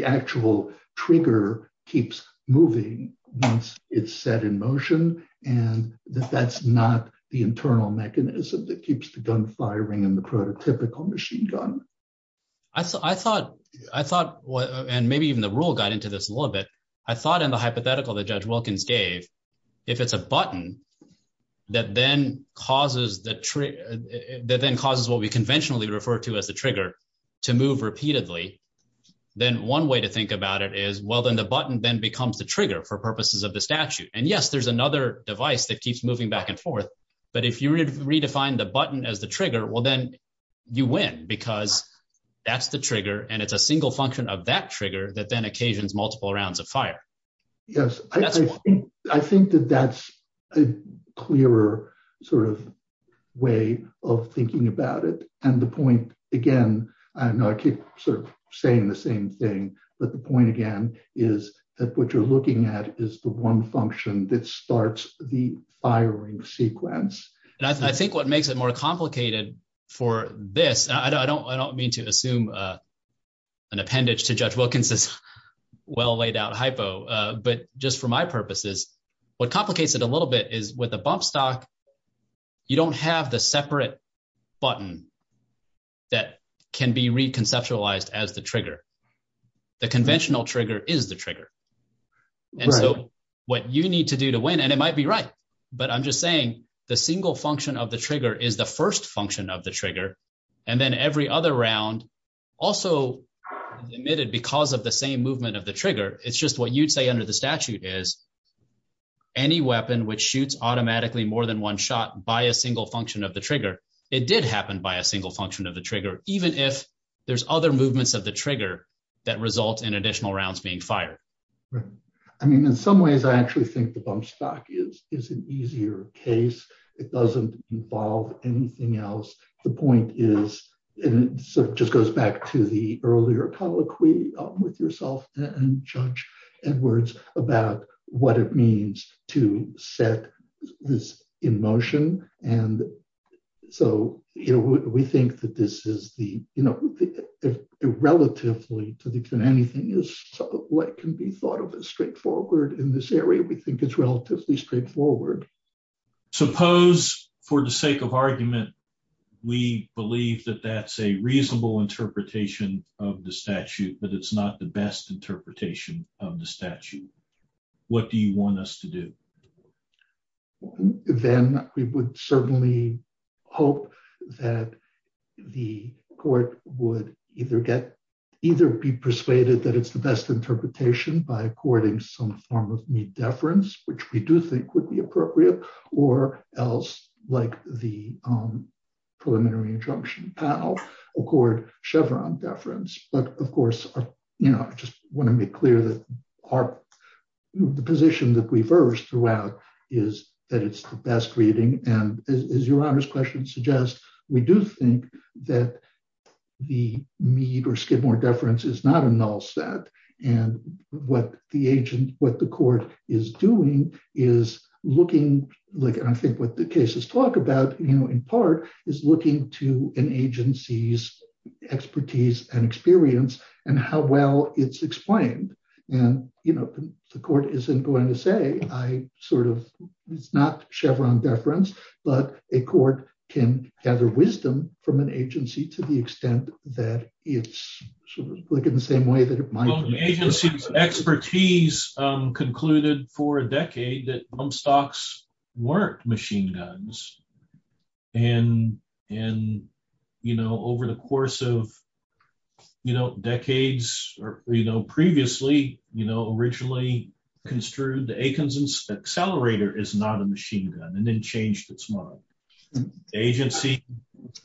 actual trigger keeps moving once it's set in motion and that that's not the internal mechanism that keeps the gun firing in the prototypical machine gun. I thought, and maybe even the rule got into this a little bit, I thought in the hypothetical that Judge Wilkins gave, if it's a button that then causes what we conventionally refer to as the trigger to move repeatedly, then one way to think about it is, well, then the button then becomes the trigger for purposes of the statute. And yes, there's another device that keeps moving back and forth, but if you redefine the button as the trigger, well, then you win because that's the trigger and it's a single function of that trigger that then occasions multiple rounds of fire. Yes, I think that that's a clearer sort of way of thinking about it. And the point, again, I keep sort of saying the same thing, but the point again is that what you're looking at is the one function that starts the firing sequence. And I think what makes it more complicated for this, I don't mean to assume an appendage to Judge Wilkins' well laid out hypo, but just for my purposes, what complicates it a little bit is with a bump stock, you don't have the separate button that can be reconceptualized as the trigger. The conventional trigger is the trigger. And what you need to do to win, and it might be right, but I'm just saying the single function of the trigger is the first function of the trigger. And then every other round, also admitted because of the same movement of the trigger, it's just what you'd say under the statute is any weapon which shoots automatically more than one shot by a single function of the trigger, it did happen by a single function of the trigger, even if there's other movements of the trigger that result in additional rounds being fired. I mean, in some ways, I actually think the bump stock is an easier case. It doesn't involve anything else. The point is, and so it just goes back to the earlier colloquy with yourself and Judge Edwards about what it means to set this in motion. And so, you know, we think that this is the, you know, relatively to anything is what can be thought of as straightforward in this area. We think it's relatively straightforward. Suppose, for the sake of argument, we believe that that's a reasonable interpretation of the statute, but it's not the best interpretation of the statute. What do you want us to do? Then we would certainly hope that the court would either be persuaded that it's the best interpretation by according some form of deference, which we do think would be appropriate, or else, like the preliminary injunction, accord Chevron deference. But, of course, you know, I just want to make clear that the position that we've heard throughout is that it's the best reading. And as Your Honor's question suggests, we do think that the Mead or Skidmore deference is not a null set. And what the agent, what the court is doing is looking, like I think what the cases talk about, you know, in part is looking to an agency's expertise and experience and how well it's explained. And, you know, the court isn't going to say I sort of, it's not Chevron deference, but a court can gather wisdom from an agency to the extent that it's looking the same way that it might. Well, the agency's expertise concluded for a decade that bump stocks weren't machine guns. And, you know, over the course of, you know, decades or, you know, previously, you know, originally construed the Atkinson's accelerator is not a machine gun and then changed its model. The agency,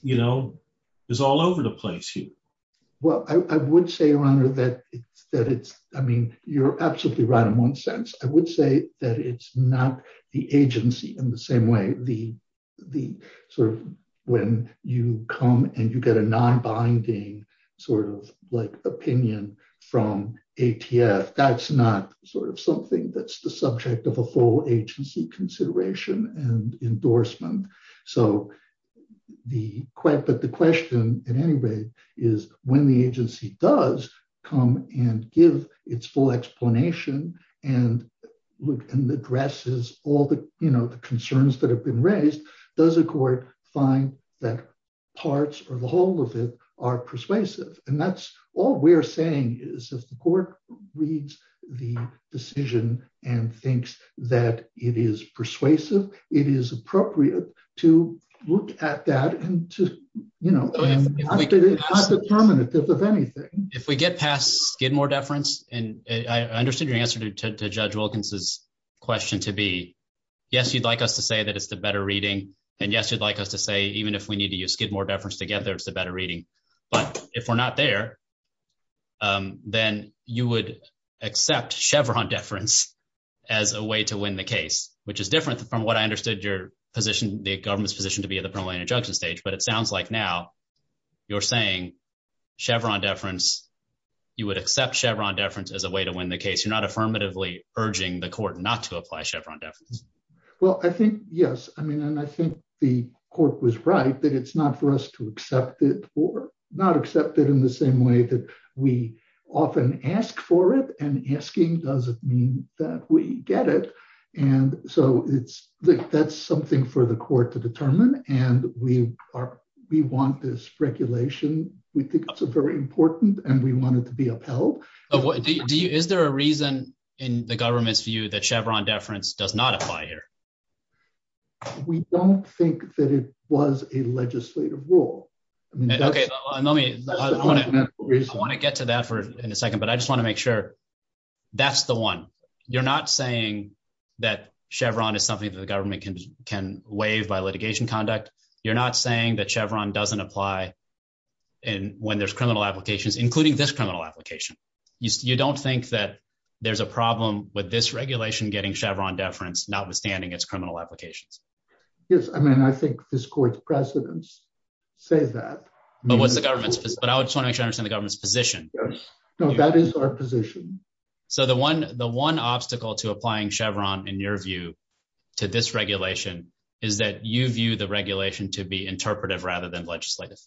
you know, is all over the place here. Well, I would say, Your Honor, that it's, I mean, you're absolutely right in one sense. I would say that it's not the agency in the same way the sort of when you come and you get a non-binding sort of like opinion from ATF, that's not sort of something that's the subject of a whole agency consideration and endorsement. So the, but the question in any way is when the agency does come and give its full explanation and look and addresses all the, you know, the concerns that have been raised, does the court find that parts of the whole of it are persuasive? And that's all we're saying is that the court reads the decision and thinks that it is persuasive. It is appropriate to look at that and to, you know, it's not determinative of anything. If we get past Skidmore deference, and I understood your answer to Judge Wilkins' question to be, yes, you'd like us to say that it's the better reading and yes, you'd like us to say, even if we need to use Skidmore deference to get there, it's the better reading. But if we're not there, then you would accept Chevron deference as a way to win the case, which is different from what I understood your position, the government's position to be at the preliminary judgment stage. But it sounds like now you're saying Chevron deference, you would accept Chevron deference as a way to win the case. You're not affirmatively urging the court not to apply Chevron deference. Well, I think, yes. I mean, and I think the court was right that it's not for us to accept it or not accept it in the same way that we often ask for it. And asking doesn't mean that we get it. And so it's, that's something for the court to determine. And we are, we want this regulation. We think it's very important and we want it to be upheld. Is there a reason in the government's view that Chevron deference does not apply here? We don't think that it was a legislative rule. I want to get to that in a second, but I just want to make sure that's the one. You're not saying that Chevron is something that the government can waive by litigation conduct. You're not saying that Chevron doesn't apply when there's criminal applications, including this criminal application. You don't think that there's a problem with this regulation getting Chevron deference, notwithstanding its criminal applications. Yes, I mean, I think this court's precedents say that. But what the government, but I was trying to understand the government's position. No, that is our position. So the one, the one obstacle to applying Chevron, in your view, to this regulation is that you view the regulation to be interpretive rather than legislative.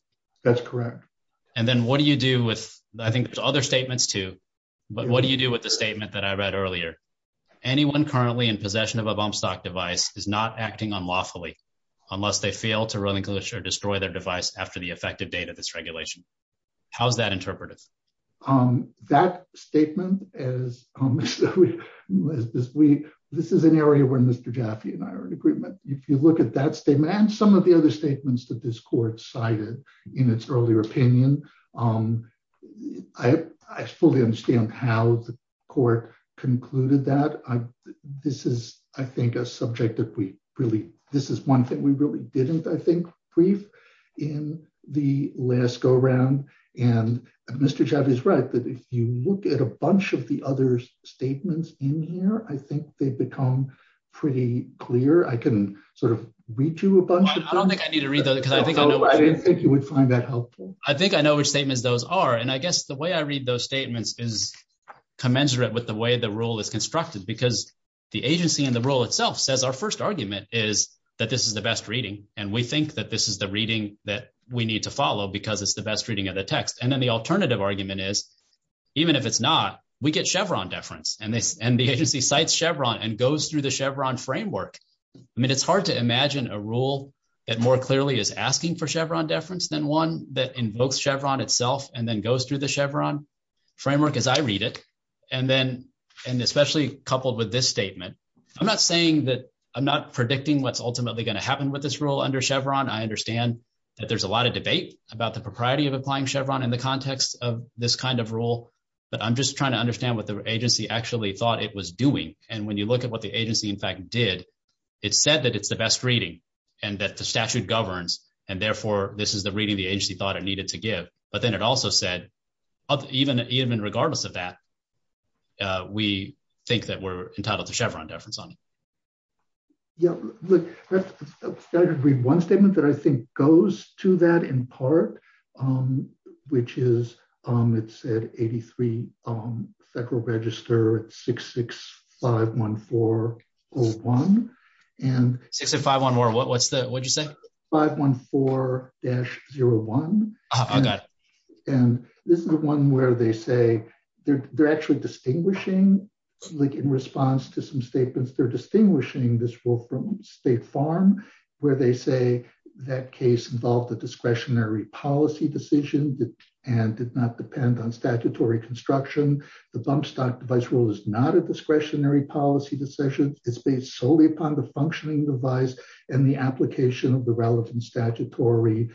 That's correct. And then what do you do with, I think there's other statements too, but what do you do with the statement that I read earlier? Anyone currently in possession of a bump stock device is not acting unlawfully unless they fail to really destroy their device after the effective date of its regulation. How's that interpretive? That statement is this week. This is an area where Mr. Gaffney and I are in agreement. If you look at that statement and some of the other statements that this court cited in its earlier opinion, I fully understand how the court concluded that. This is, I think, a subject that we really, this is one thing we really didn't, I think, brief in the last go around. And Mr. Gaffney is right that if you look at a bunch of the other statements in here, I think they become pretty clear. I can sort of read through a bunch of them. I don't think I need to read those. I think you would find that helpful. I think I know which statements those are. And I guess the way I read those statements is commensurate with the way the rule is constructed because the agency and the rule itself says our first argument is that this is the best reading. And we think that this is the reading that we need to follow because it's the best reading of the text. And then the alternative argument is even if it's not, we get Chevron deference. And the agency cites Chevron and goes through the Chevron framework. I mean, it's hard to imagine a rule that more clearly is asking for Chevron deference than one that invokes Chevron itself and then goes through the Chevron framework as I read it. And then, and especially coupled with this statement, I'm not saying that, I'm not predicting what's ultimately going to happen with this rule under Chevron. I understand that there's a lot of debate about the propriety of applying Chevron in the context of this kind of rule. But I'm just trying to understand what the agency actually thought it was doing. And when you look at what the agency, in fact, did, it said that it's the best reading and that the statute governs and, therefore, this is the reading the agency thought it needed to give. But then it also said even regardless of that, we think that we're entitled to Chevron deference on it. Yeah, that would be one statement that I think goes to that in part, which is, it said, 83 Federal Register 66514-01. 66514, what did you say? 514-01. Oh, I got it. And this is the one where they say they're actually distinguishing, like in response to some statements, they're distinguishing this rule from State Farm, where they say that case involved a discretionary policy decision and did not depend on statutory construction. The bump stock device rule is not a discretionary policy decision. It's based solely upon the functioning device and the application of the relevant statutory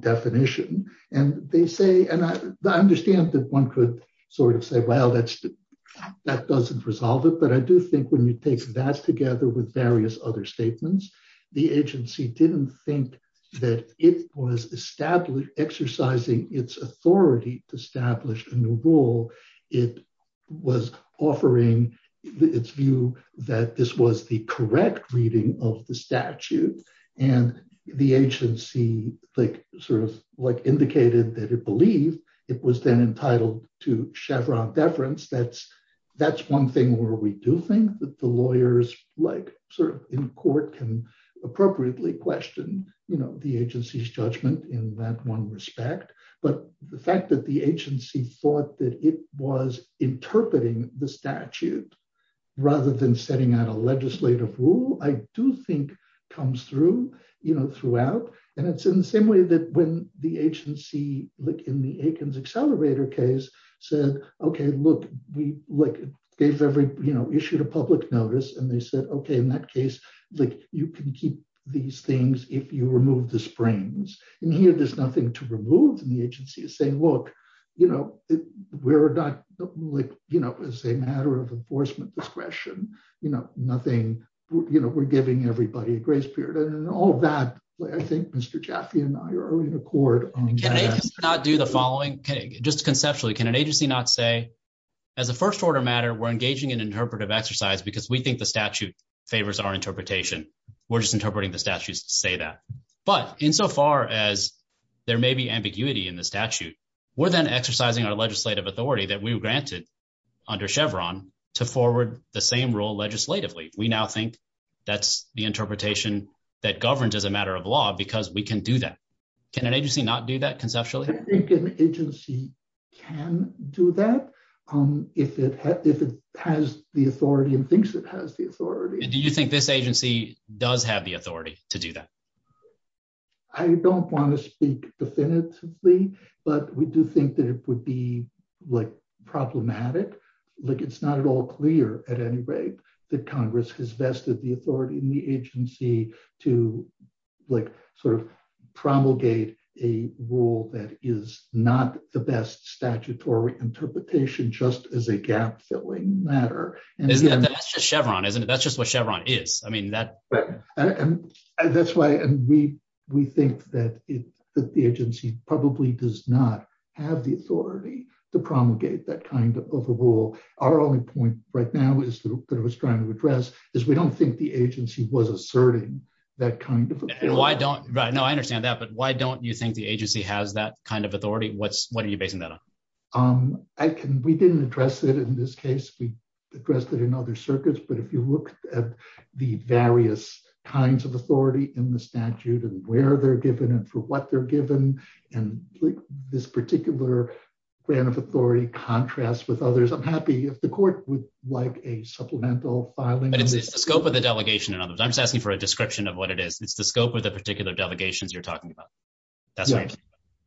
definition. And they say, and I understand that one could sort of say, well, that doesn't resolve it. But I do think when we take that together with various other statements, the agency didn't think that it was exercising its authority to establish a new rule. It was offering its view that this was the correct reading of the statute. And the agency sort of indicated that it believed it was then entitled to Chevron deference. That's one thing where we do think that the lawyers in court can appropriately question the agency's judgment in that one respect. But the fact that the agency thought that it was interpreting the statute rather than setting out a legislative rule, I do think comes through throughout. And it's in the same way that when the agency, like in the Aikens accelerator case, said, okay, look, they've issued a public notice. And they said, okay, in that case, you can keep these things if you remove the springs. And here there's nothing to remove from the agency. It's saying, look, you know, we're not, you know, it's a matter of enforcement discretion. You know, nothing, you know, we're giving everybody grace period. And all that, I think Mr. Jaffee and I are in accord on that. Can an agency not do the following? Okay, just conceptually, can an agency not say, as a first order matter, we're engaging in interpretive exercise because we think the statute favors our interpretation. We're just interpreting the statutes to say that. But insofar as there may be ambiguity in the statute, we're then exercising our legislative authority that we were granted under Chevron to forward the same rule legislatively. We now think that's the interpretation that governs as a matter of law because we can do that. Can an agency not do that conceptually? I think an agency can do that if it has the authority and thinks it has the authority. Do you think this agency does have the authority to do that? I don't want to speak definitively, but we do think that it would be, like, problematic. Like, it's not at all clear at any rate that Congress has vested the authority in the agency to, like, sort of promulgate a rule that is not the best statutory interpretation just as a gap-filling matter. That's just Chevron, isn't it? That's just what Chevron is. That's why we think that the agency probably does not have the authority to promulgate that kind of a rule. Our only point right now that I was trying to address is we don't think the agency was asserting that kind of authority. I understand that, but why don't you think the agency has that kind of authority? What are you basing that on? We didn't address it in this case. We addressed it in other circuits. But if you look at the various kinds of authority in the statute and where they're given and for what they're given, and this particular plan of authority contrasts with others, I'm happy if the court would like a supplemental filing. But it's the scope of the delegation. I'm just asking for a description of what it is. It's the scope of the particular delegations you're talking about.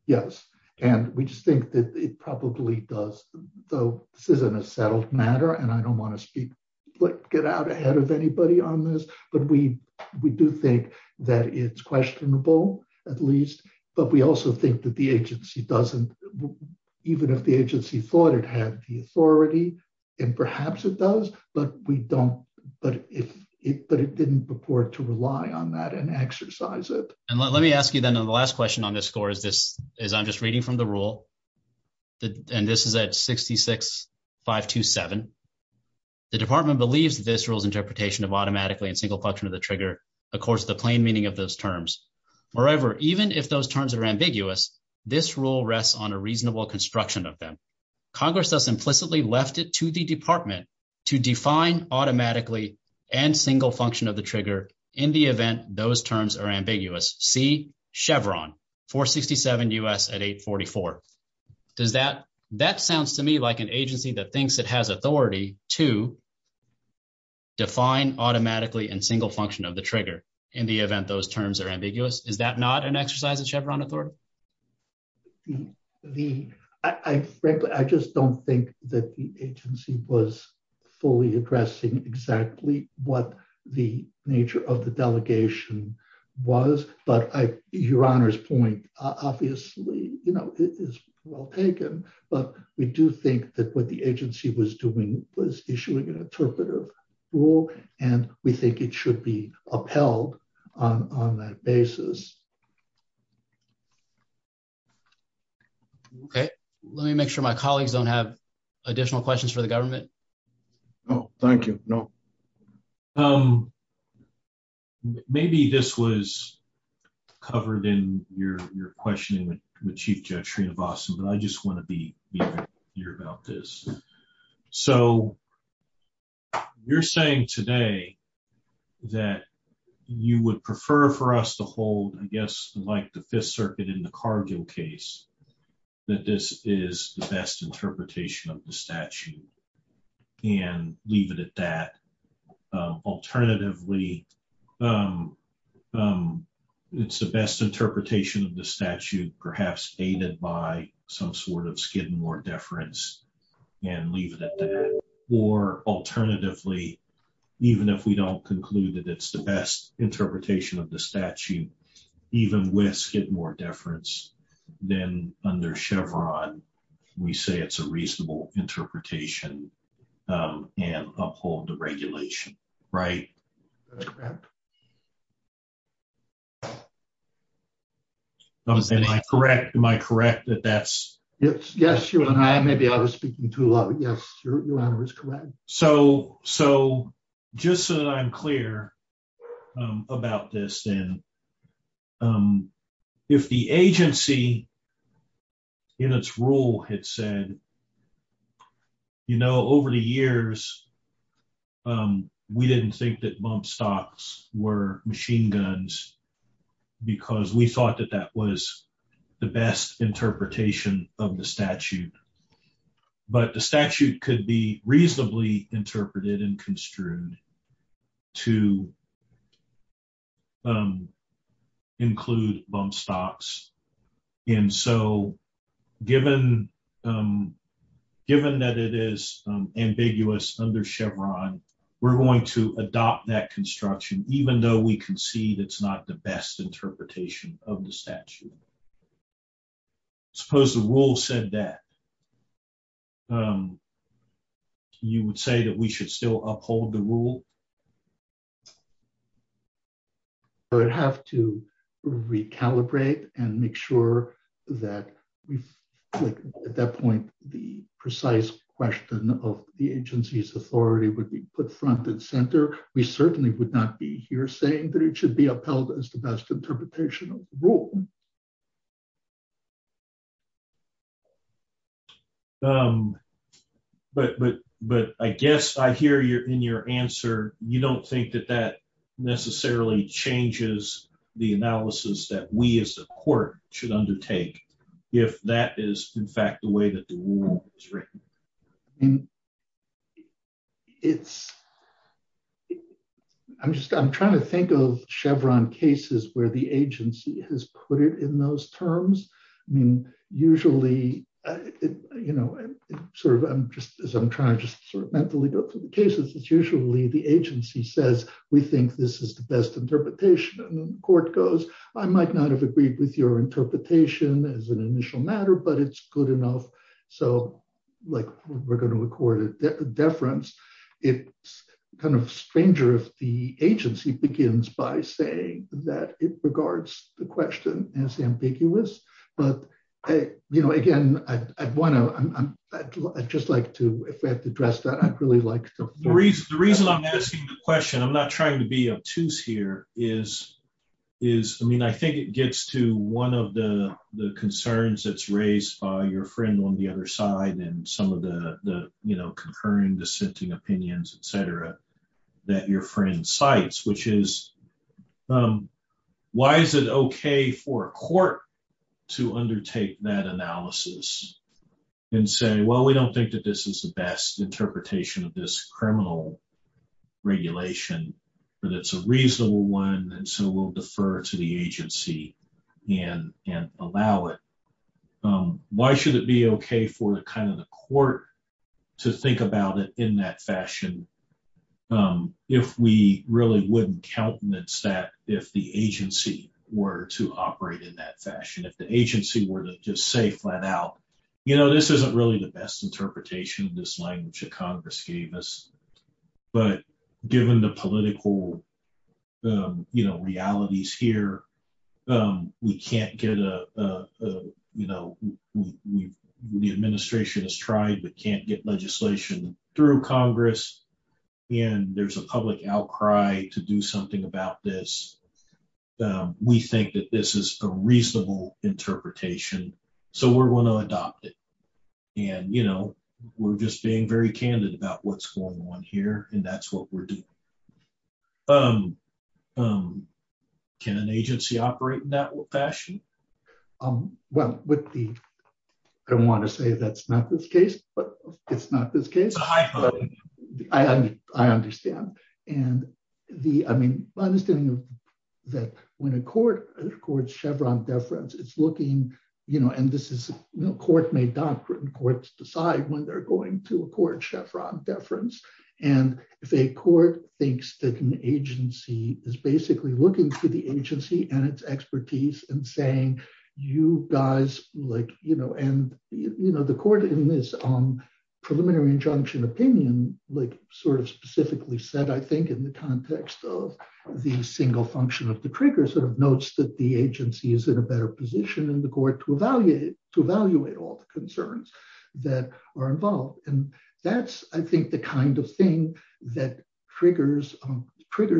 Yes. And we just think that it probably does. So this isn't a settled matter, and I don't want to get out ahead of anybody on this, but we do think that it's questionable, at least. But we also think that the agency doesn't, even if the agency thought it had the authority, and perhaps it does, but it didn't purport to rely on that and exercise it. And let me ask you then the last question on this score is I'm just reading from the rule, and this is at 66-527. The department believes this rule's interpretation of automatically and single function of the trigger accords with the plain meaning of those terms. Moreover, even if those terms are ambiguous, this rule rests on a reasonable construction of them. Congress thus implicitly left it to the department to define automatically and single function of the trigger in the event those terms are ambiguous. See Chevron, 467 U.S. at 844. That sounds to me like an agency that thinks it has authority to define automatically and single function of the trigger in the event those terms are ambiguous. Is that not an exercise of Chevron authority? Frankly, I just don't think that the agency was fully addressing exactly what the nature of the delegation was. But Your Honor's point, obviously, you know, it is well taken, but we do think that what the agency was doing was issuing an interpretive rule, and we think it should be upheld on that basis. Okay. Let me make sure my colleagues don't have additional questions for the government. No. Thank you. No. Maybe this was covered in your questioning with Chief Judge Sreenivasan, but I just want to be clear about this. So you're saying today that you would prefer for us to hold, I guess, like the Fifth Circuit in the Cargill case, that this is the best interpretation of the statute and leave it at that. Alternatively, it's the best interpretation of the statute, perhaps aided by some sort of Skidmore deference and leave it at that. Or alternatively, even if we don't conclude that it's the best interpretation of the statute, even with Skidmore deference, then under Chevron, we say it's a reasonable interpretation and uphold the regulation. Right? Am I correct? Am I correct that that's... Yes, Your Honor. I may be over speaking too loud, but yes, Your Honor, it's correct. So just so that I'm clear about this, then, if the agency in its rule had said, you know, over the years, we didn't think that bump stocks were machine guns because we thought that that was the best interpretation of the statute. But the statute could be reasonably interpreted and construed to include bump stocks. And so, given that it is ambiguous under Chevron, we're going to adopt that construction, even though we concede it's not the best interpretation of the statute. Suppose the rule said that. You would say that we should still uphold the rule? We would have to recalibrate and make sure that we, at that point, the precise question of the agency's authority would be put front and center. We certainly would not be here saying that it should be upheld as the best interpretation of the rule. But I guess I hear in your answer, you don't think that that necessarily changes the analysis that we as a court should undertake, if that is, in fact, the way that the rule is written. I'm just, I'm trying to think of Chevron cases where the agency has put it in those terms. I mean, usually, you know, sort of, I'm just, as I'm trying to sort of mentally go through the cases, it's usually the agency says, we think this is the best interpretation. And the court goes, I might not have agreed with your interpretation as an initial matter, but it's good enough. So, like, we're going to record a deference. It's kind of stranger if the agency begins by saying that it regards the question as ambiguous. But, you know, again, I'd want to, I'd just like to, in fact, address that. The reason I'm asking the question, I'm not trying to be obtuse here, is, I mean, I think it gets to one of the concerns that's raised by your friend on the other side and some of the, you know, concurring dissenting opinions, et cetera, that your friend cites, which is, why is it okay for a court to undertake that analysis and say, well, we don't think that this is the best interpretation of this criminal regulation, but it's a reasonable one, and so we'll defer to the agency and allow it. Why should it be okay for kind of the court to think about it in that fashion if we really wouldn't countenance that if the agency were to operate in that fashion, if the agency were to just say flat out, you know, this isn't really the best interpretation of this language that Congress gave us. But given the political, you know, realities here, we can't get a, you know, the administration has tried but can't get legislation through Congress, and there's a public outcry to do something about this. We think that this is a reasonable interpretation, so we're going to adopt it. And, you know, we're just being very candid about what's going on here, and that's what we're doing. Can an agency operate in that fashion? Well, I don't want to say that's not this case, but it's not this case. I understand. I mean, I understand that when a court records Chevron deference, it's looking, you know, and this is a court-made doctrine. Courts decide when they're going to a court Chevron deference, and if a court thinks that an agency is basically looking to the agency and its expertise and saying, you guys, like, you know, and, you know, the court in this preliminary injunction opinion, like, sort of specifically said, I think, in the context of the single function of the trigger, sort of notes that the agency is in a better position in the court to evaluate all the concerns that are involved. And that's, I think, the kind of thing that triggers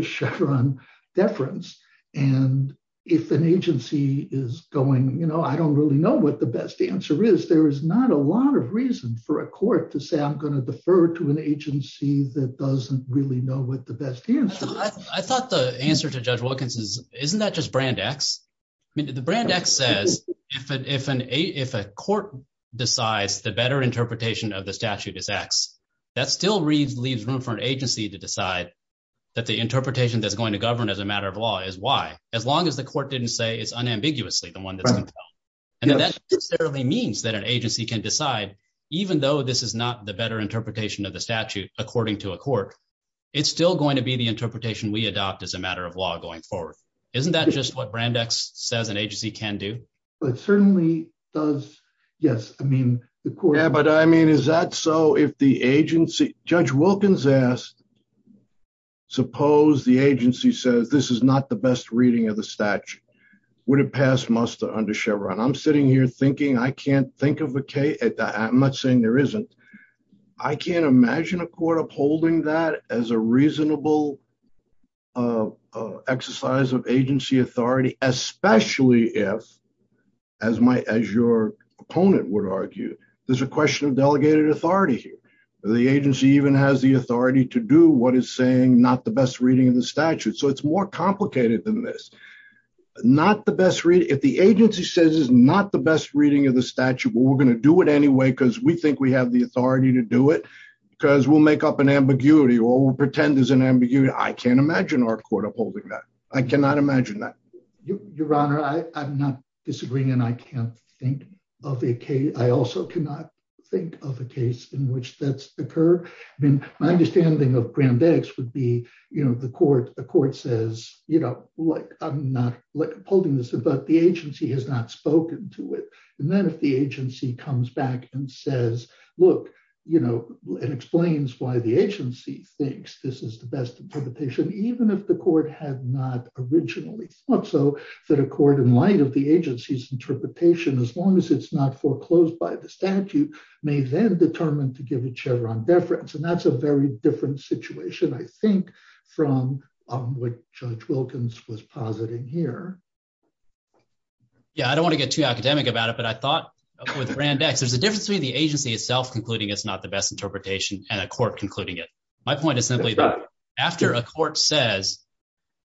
Chevron deference. And if an agency is going, you know, I don't really know what the best answer is, there is not a lot of reason for a court to say I'm going to defer to an agency that doesn't really know what the best answer is. I thought the answer to Judge Wilkins is, isn't that just brand X? I mean, the brand X says if a court decides the better interpretation of the statute is X, that still leaves room for an agency to decide that the interpretation that's going to govern as a matter of law is Y, as long as the court didn't say it's unambiguously the one that doesn't tell. And that necessarily means that an agency can decide, even though this is not the better interpretation of the statute, according to a court, it's still going to be the interpretation we adopt as a matter of law going forward. Isn't that just what brand X says an agency can do? But it certainly does, yes. I mean, the court... I can't imagine our court upholding that. I cannot imagine that. Your Honor, I'm not disagreeing, and I can't think of a case... I also cannot think of a case in which that's occurred. I mean, my understanding of brand X would be, you know, the court says, you know, I'm not upholding this, but the agency has not spoken to it. And then if the agency comes back and says, look, you know, and explains why the agency thinks this is the best interpretation, even if the court had not originally thought so, that a court, in light of the agency's interpretation, as long as it's not foreclosed by the statute, may then determine to give each other on deference. And that's a very different situation, I think, from what Judge Wilkins was positing here. Yeah, I don't want to get too academic about it, but I thought with brand X, there's a difference between the agency itself concluding it's not the best interpretation and a court concluding it. My point is simply that after a court says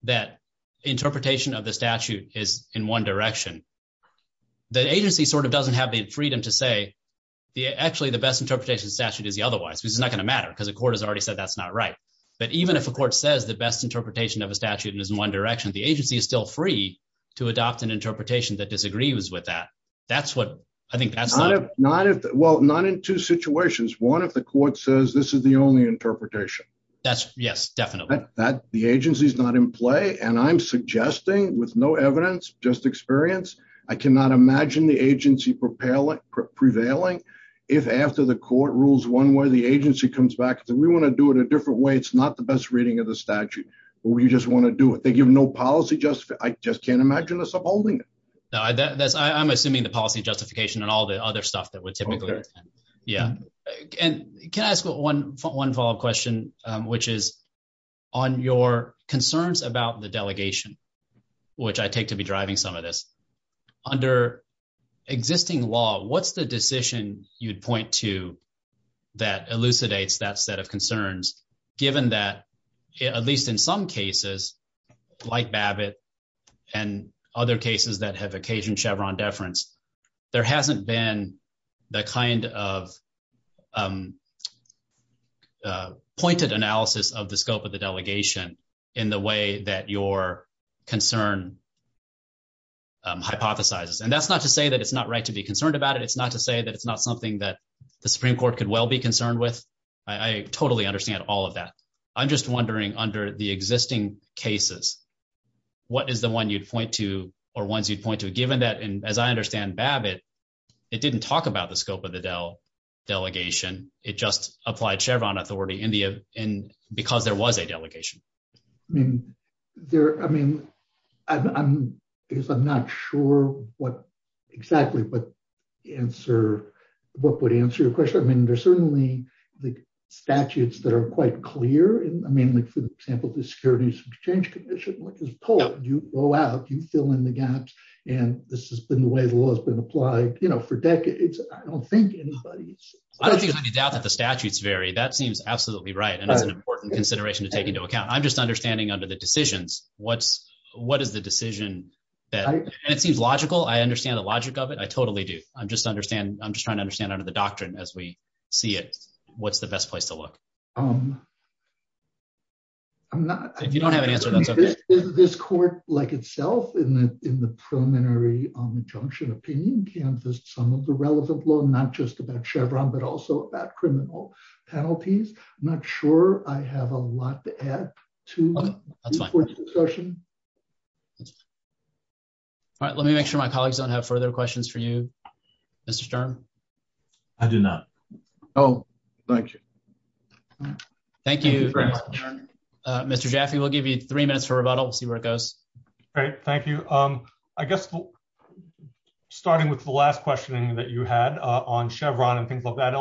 that interpretation of the statute is in one direction, the agency sort of doesn't have the freedom to say, actually, the best interpretation statute is the otherwise. It's not going to matter because the court has already said that's not right. But even if a court says the best interpretation of a statute is in one direction, the agency is still free to adopt an interpretation that disagrees with that. That's what I think that's not. Well, not in two situations. One, if the court says this is the only interpretation. That's yes, definitely. The agency's not in play, and I'm suggesting with no evidence, just experience, I cannot imagine the agency prevailing if after the court rules one way, the agency comes back and says, we want to do it a different way. It's not the best reading of the statute. We just want to do it. They give no policy justification. I just can't imagine us upholding it. I'm assuming the policy justification and all the other stuff that would typically. Yeah, and can I ask one one follow up question, which is on your concerns about the delegation, which I take to be driving some of this under existing law, what's the decision you'd point to that elucidates that set of concerns, given that, at least in some cases, like Babbitt and other cases that have occasion Chevron deference. There hasn't been the kind of pointed analysis of the scope of the delegation in the way that your concern hypothesizes and that's not to say that it's not right to be concerned about it. It's not to say that it's not something that the Supreme Court could well be concerned with. I totally understand all of that. I'm just wondering, under the existing cases, what is the one you'd point to, or ones you'd point to, given that, as I understand Babbitt, it didn't talk about the scope of the delegation. It just applied Chevron authority because there was a delegation. I mean, because I'm not sure what exactly would answer your question. I mean, there's certainly the statutes that are quite clear. I mean, for example, the Securities Exchange Commission, which is a poet, you go out, you fill in the gaps, and this has been the way the law has been applied for decades. I don't think anybody's… I don't doubt that the statutes vary. That seems absolutely right, and that's an important consideration to take into account. I'm just understanding under the decisions, what is the decision that… It seems logical. I understand the logic of it. I totally do. I'm just trying to understand under the doctrine as we see it, what's the best place to look. I'm not… You don't have an answer. Is this court, like itself, in the preliminary junction opinion, Kansas, some of the relevant law, not just about Chevron, but also about criminal penalties? I'm not sure. I have a lot to add to this court's discussion. All right. Let me make sure my colleagues don't have further questions for you, Mr. Sturm. I do not. Oh, thank you. Thank you, Mr. Sturm. Mr. Jaffe, we'll give you three minutes for rebuttal and see where it goes. All right. Thank you. I guess, starting with the last questioning that you had on Chevron and things like that,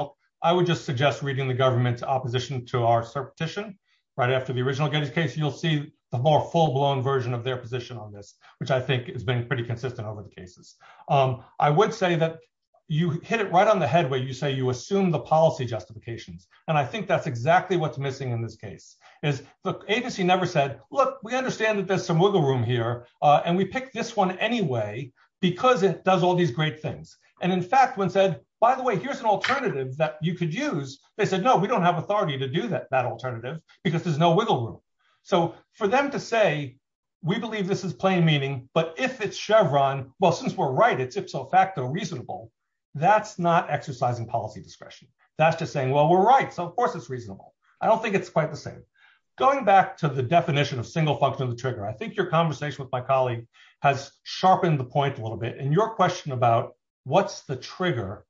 I would just suggest reading the government's opposition to our cert petition. Right after the original case, you'll see a more full-blown version of their position on this, which I think has been pretty consistent over the cases. I would say that you hit it right on the head when you say you assume the policy justification, and I think that's exactly what's missing in this case. The agency never said, look, we understand that there's some wiggle room here, and we picked this one anyway because it does all these great things. And, in fact, when it said, by the way, here's an alternative that you could use, they said, no, we don't have authority to do that alternative because there's no wiggle room. So, for them to say, we believe this is plain meaning, but if it's Chevron, well, since we're right, it's ipso facto reasonable, that's not exercising policy discretion. That's just saying, well, we're right, so of course it's reasonable. I don't think it's quite the same. Going back to the definition of single function of the trigger, I think your conversation with my colleague has sharpened the point a little bit. And your question about what's the trigger,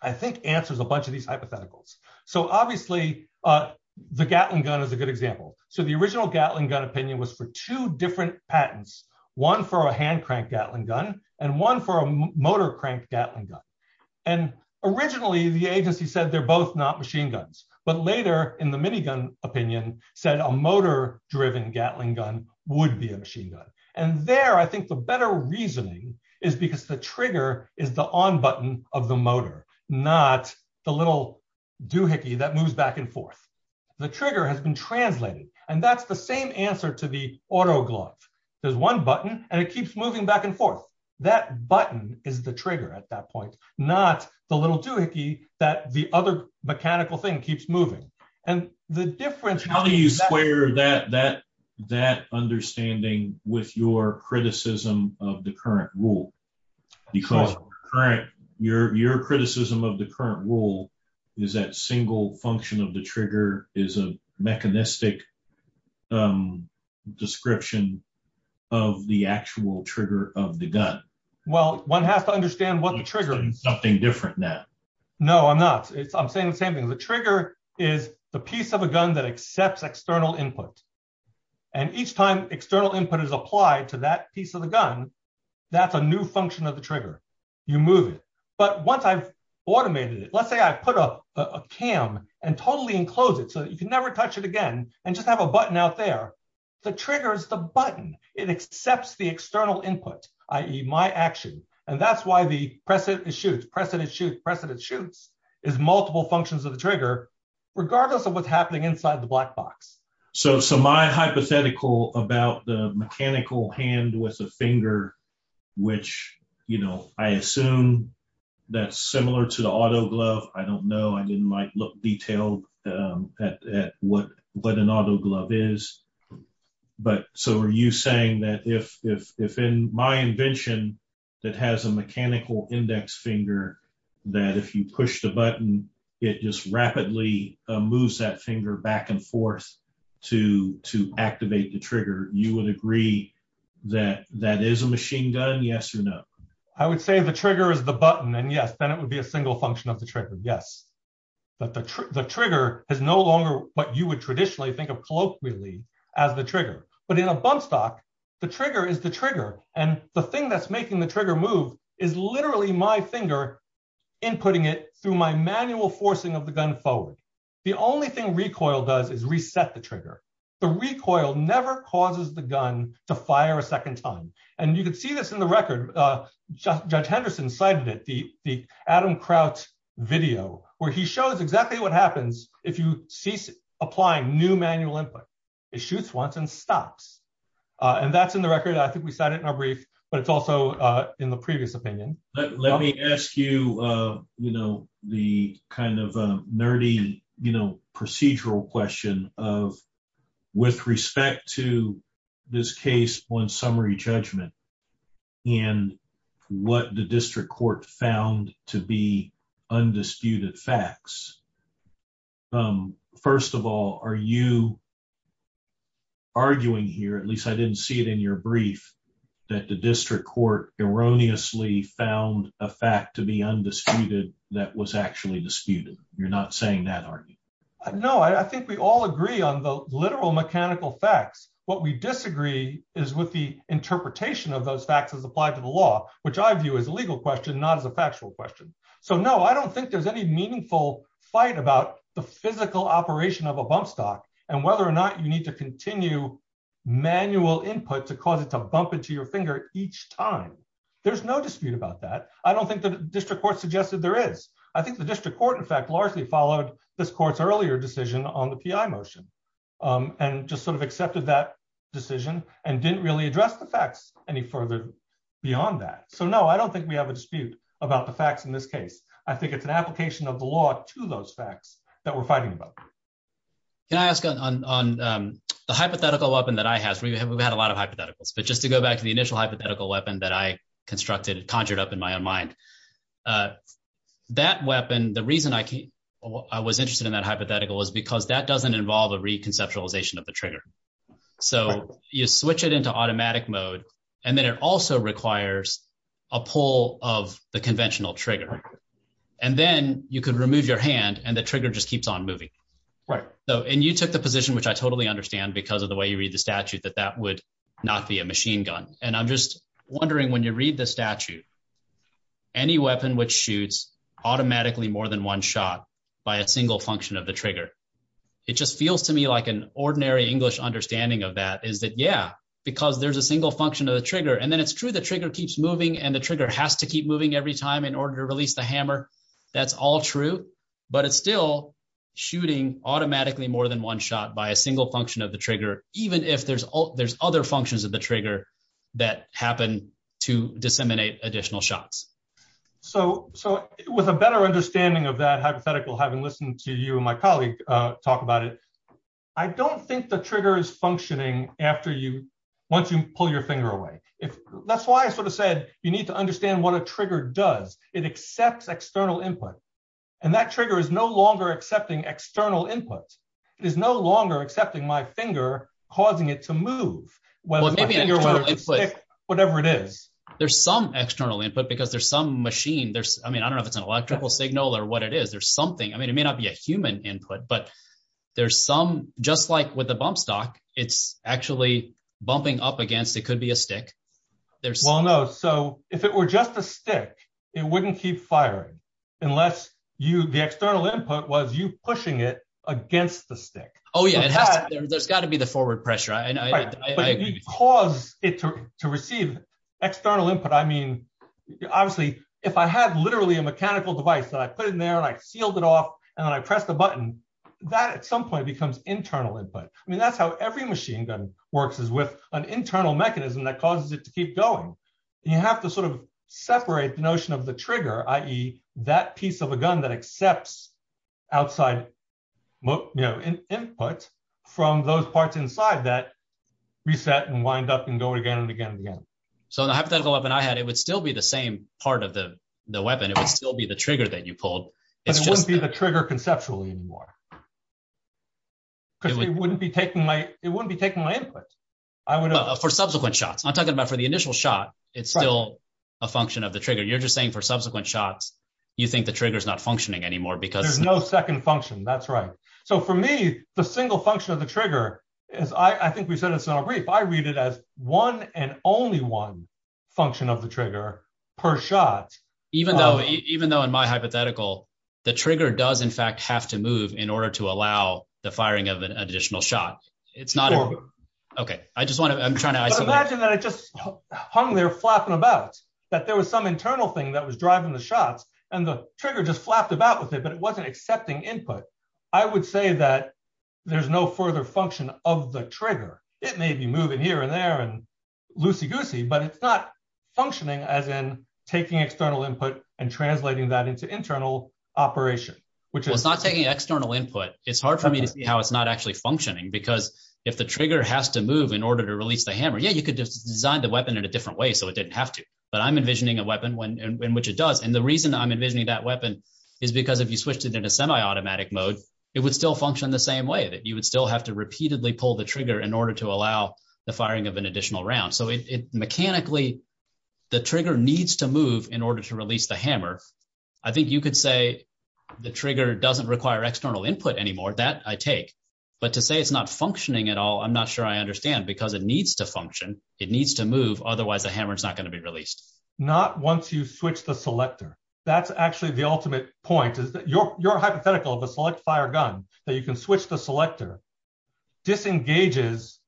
I think, answers a bunch of these hypotheticals. So, obviously, the Gatling gun is a good example. So, the original Gatling gun opinion was for two different patents, one for a hand-cranked Gatling gun and one for a motor-cranked Gatling gun. And originally, the agency said they're both not machine guns. But later, in the minigun opinion, said a motor-driven Gatling gun would be a machine gun. And there, I think the better reasoning is because the trigger is the on button of the motor, not the little doohickey that moves back and forth. The trigger has been translated, and that's the same answer to the autoglock. There's one button, and it keeps moving back and forth. That button is the trigger at that point, not the little doohickey that the other mechanical thing keeps moving. How do you square that understanding with your criticism of the current rule? Because your criticism of the current rule is that single function of the trigger is a mechanistic description of the actual trigger of the gun. Well, one has to understand what the trigger is. You're saying something different now. No, I'm not. I'm saying the same thing. The trigger is the piece of a gun that accepts external input. And each time external input is applied to that piece of the gun, that's a new function of the trigger. You move it. But once I've automated it, let's say I put a cam and totally enclose it so that you can never touch it again and just have a button out there. The trigger is the button. It accepts the external input, i.e., my action. And that's why the press it, it shoots, press it, it shoots, press it, it shoots is multiple functions of the trigger, regardless of what's happening inside the black box. So my hypothetical about the mechanical hand with the finger, which, you know, I assume that's similar to the autoglove, I don't know. I mean, it might look detailed at what an autoglove is. But so are you saying that if in my invention that has a mechanical index finger, that if you push the button, it just rapidly moves that finger back and forth to activate the trigger, you would agree that that is a machine gun, yes or no? I would say the trigger is the button. And yes, then it would be a single function of the trigger. Yes. But the trigger is no longer what you would traditionally think of colloquially as the trigger. But in a bump stock, the trigger is the trigger. And the thing that's making the trigger move is literally my finger inputting it through my manual forcing of the gun forward. The only thing recoil does is reset the trigger. The recoil never causes the gun to fire a second time. And you can see this in the record. Judge Henderson cited it, the Adam Kraut video, where he shows exactly what happens if you cease applying new manual input. It shoots once and stops. And that's in the record. I think we cited it in our brief, but it's also in the previous opinion. Let me ask you the kind of nerdy procedural question of with respect to this case on summary judgment and what the district court found to be undisputed facts. First of all, are you arguing here, at least I didn't see it in your brief, that the district court erroneously found a fact to be undisputed that was actually disputed? You're not saying that, are you? No, I think we all agree on the literal mechanical facts. What we disagree is with the interpretation of those facts as applied to the law, which I view as a legal question, not as a factual question. So, no, I don't think there's any meaningful fight about the physical operation of a bump stock and whether or not you need to continue manual input to cause it to bump into your finger each time. There's no dispute about that. I don't think the district court suggested there is. I think the district court, in fact, largely followed this court's earlier decision on the PI motion and just sort of accepted that decision and didn't really address the facts any further beyond that. So, no, I don't think we have a dispute about the facts in this case. I think it's an application of the law to those facts that we're fighting about. Can I ask on the hypothetical weapon that I have? We've had a lot of hypotheticals, but just to go back to the initial hypothetical weapon that I constructed, conjured up in my own mind, that weapon, the reason I was interested in that hypothetical is because that doesn't involve a reconceptualization of the trigger. So, you switch it into automatic mode, and then it also requires a pull of the conventional trigger. And then you could remove your hand, and the trigger just keeps on moving. Right. And you took the position, which I totally understand because of the way you read the statute, that that would not be a machine gun. And I'm just wondering, when you read the statute, any weapon which shoots automatically more than one shot by a single function of the trigger, it just feels to me like an ordinary English understanding of that is that, yeah, because there's a single function of the trigger. And then it's true the trigger keeps moving and the trigger has to keep moving every time in order to release the hammer. That's all true, but it's still shooting automatically more than one shot by a single function of the trigger, even if there's other functions of the trigger that happen to disseminate additional shots. So, with a better understanding of that hypothetical, having listened to you and my colleague talk about it, I don't think the trigger is functioning once you pull your finger away. That's why I sort of said you need to understand what a trigger does. It accepts external input. And that trigger is no longer accepting external inputs. It is no longer accepting my finger, causing it to move. Well, maybe a finger or a stick, whatever it is. There's some external input because there's some machine. I mean, I don't know if it's an electrical signal or what it is. I mean, it may not be a human input, but there's some, just like with a bump stock, it's actually bumping up against, it could be a stick. Well, no. So, if it were just a stick, it wouldn't keep firing unless the external input was you pushing it against the stick. Oh, yeah. There's got to be the forward pressure. But if you cause it to receive external input, I mean, obviously, if I had literally a mechanical device that I put in there and I sealed it off and then I press the button, that at some point becomes internal input. I mean, that's how every machine gun works, is with an internal mechanism that causes it to keep going. You have to sort of separate the notion of the trigger, i.e., that piece of a gun that accepts outside input from those parts inside that reset and wind up and go again and again and again. So, the hypothetical weapon I had, it would still be the same part of the weapon. It would still be the trigger that you pulled. It wouldn't be the trigger conceptually anymore. Because it wouldn't be taking my input. For subsequent shots. I'm talking about for the initial shot, it's still a function of the trigger. You're just saying for subsequent shots, you think the trigger's not functioning anymore because… There's no second function. That's right. So, for me, the single function of the trigger is, I think we said this in a brief, I read it as one and only one function of the trigger per shot. Even though, in my hypothetical, the trigger does, in fact, have to move in order to allow the firing of an additional shot. It's not… Okay. I just want to… Imagine that it just hung there flapping about. That there was some internal thing that was driving the shots, and the trigger just flapped about with it, but it wasn't accepting input. I would say that there's no further function of the trigger. It may be moving here and there and loosey-goosey, but it's not functioning as in taking external input and translating that into internal operation, which is… You could just design the weapon in a different way so it didn't have to, but I'm envisioning a weapon in which it does. And the reason I'm envisioning that weapon is because if you switched it into semi-automatic mode, it would still function the same way. You would still have to repeatedly pull the trigger in order to allow the firing of an additional round. So, mechanically, the trigger needs to move in order to release the hammer. I think you could say the trigger doesn't require external input anymore. That, I take. But to say it's not functioning at all, I'm not sure I understand, because it needs to function. It needs to move. Otherwise, the hammer's not going to be released. Not once you switch the selector. That's actually the ultimate point, is that your hypothetical of a select-fire gun, that you can switch the selector, disengages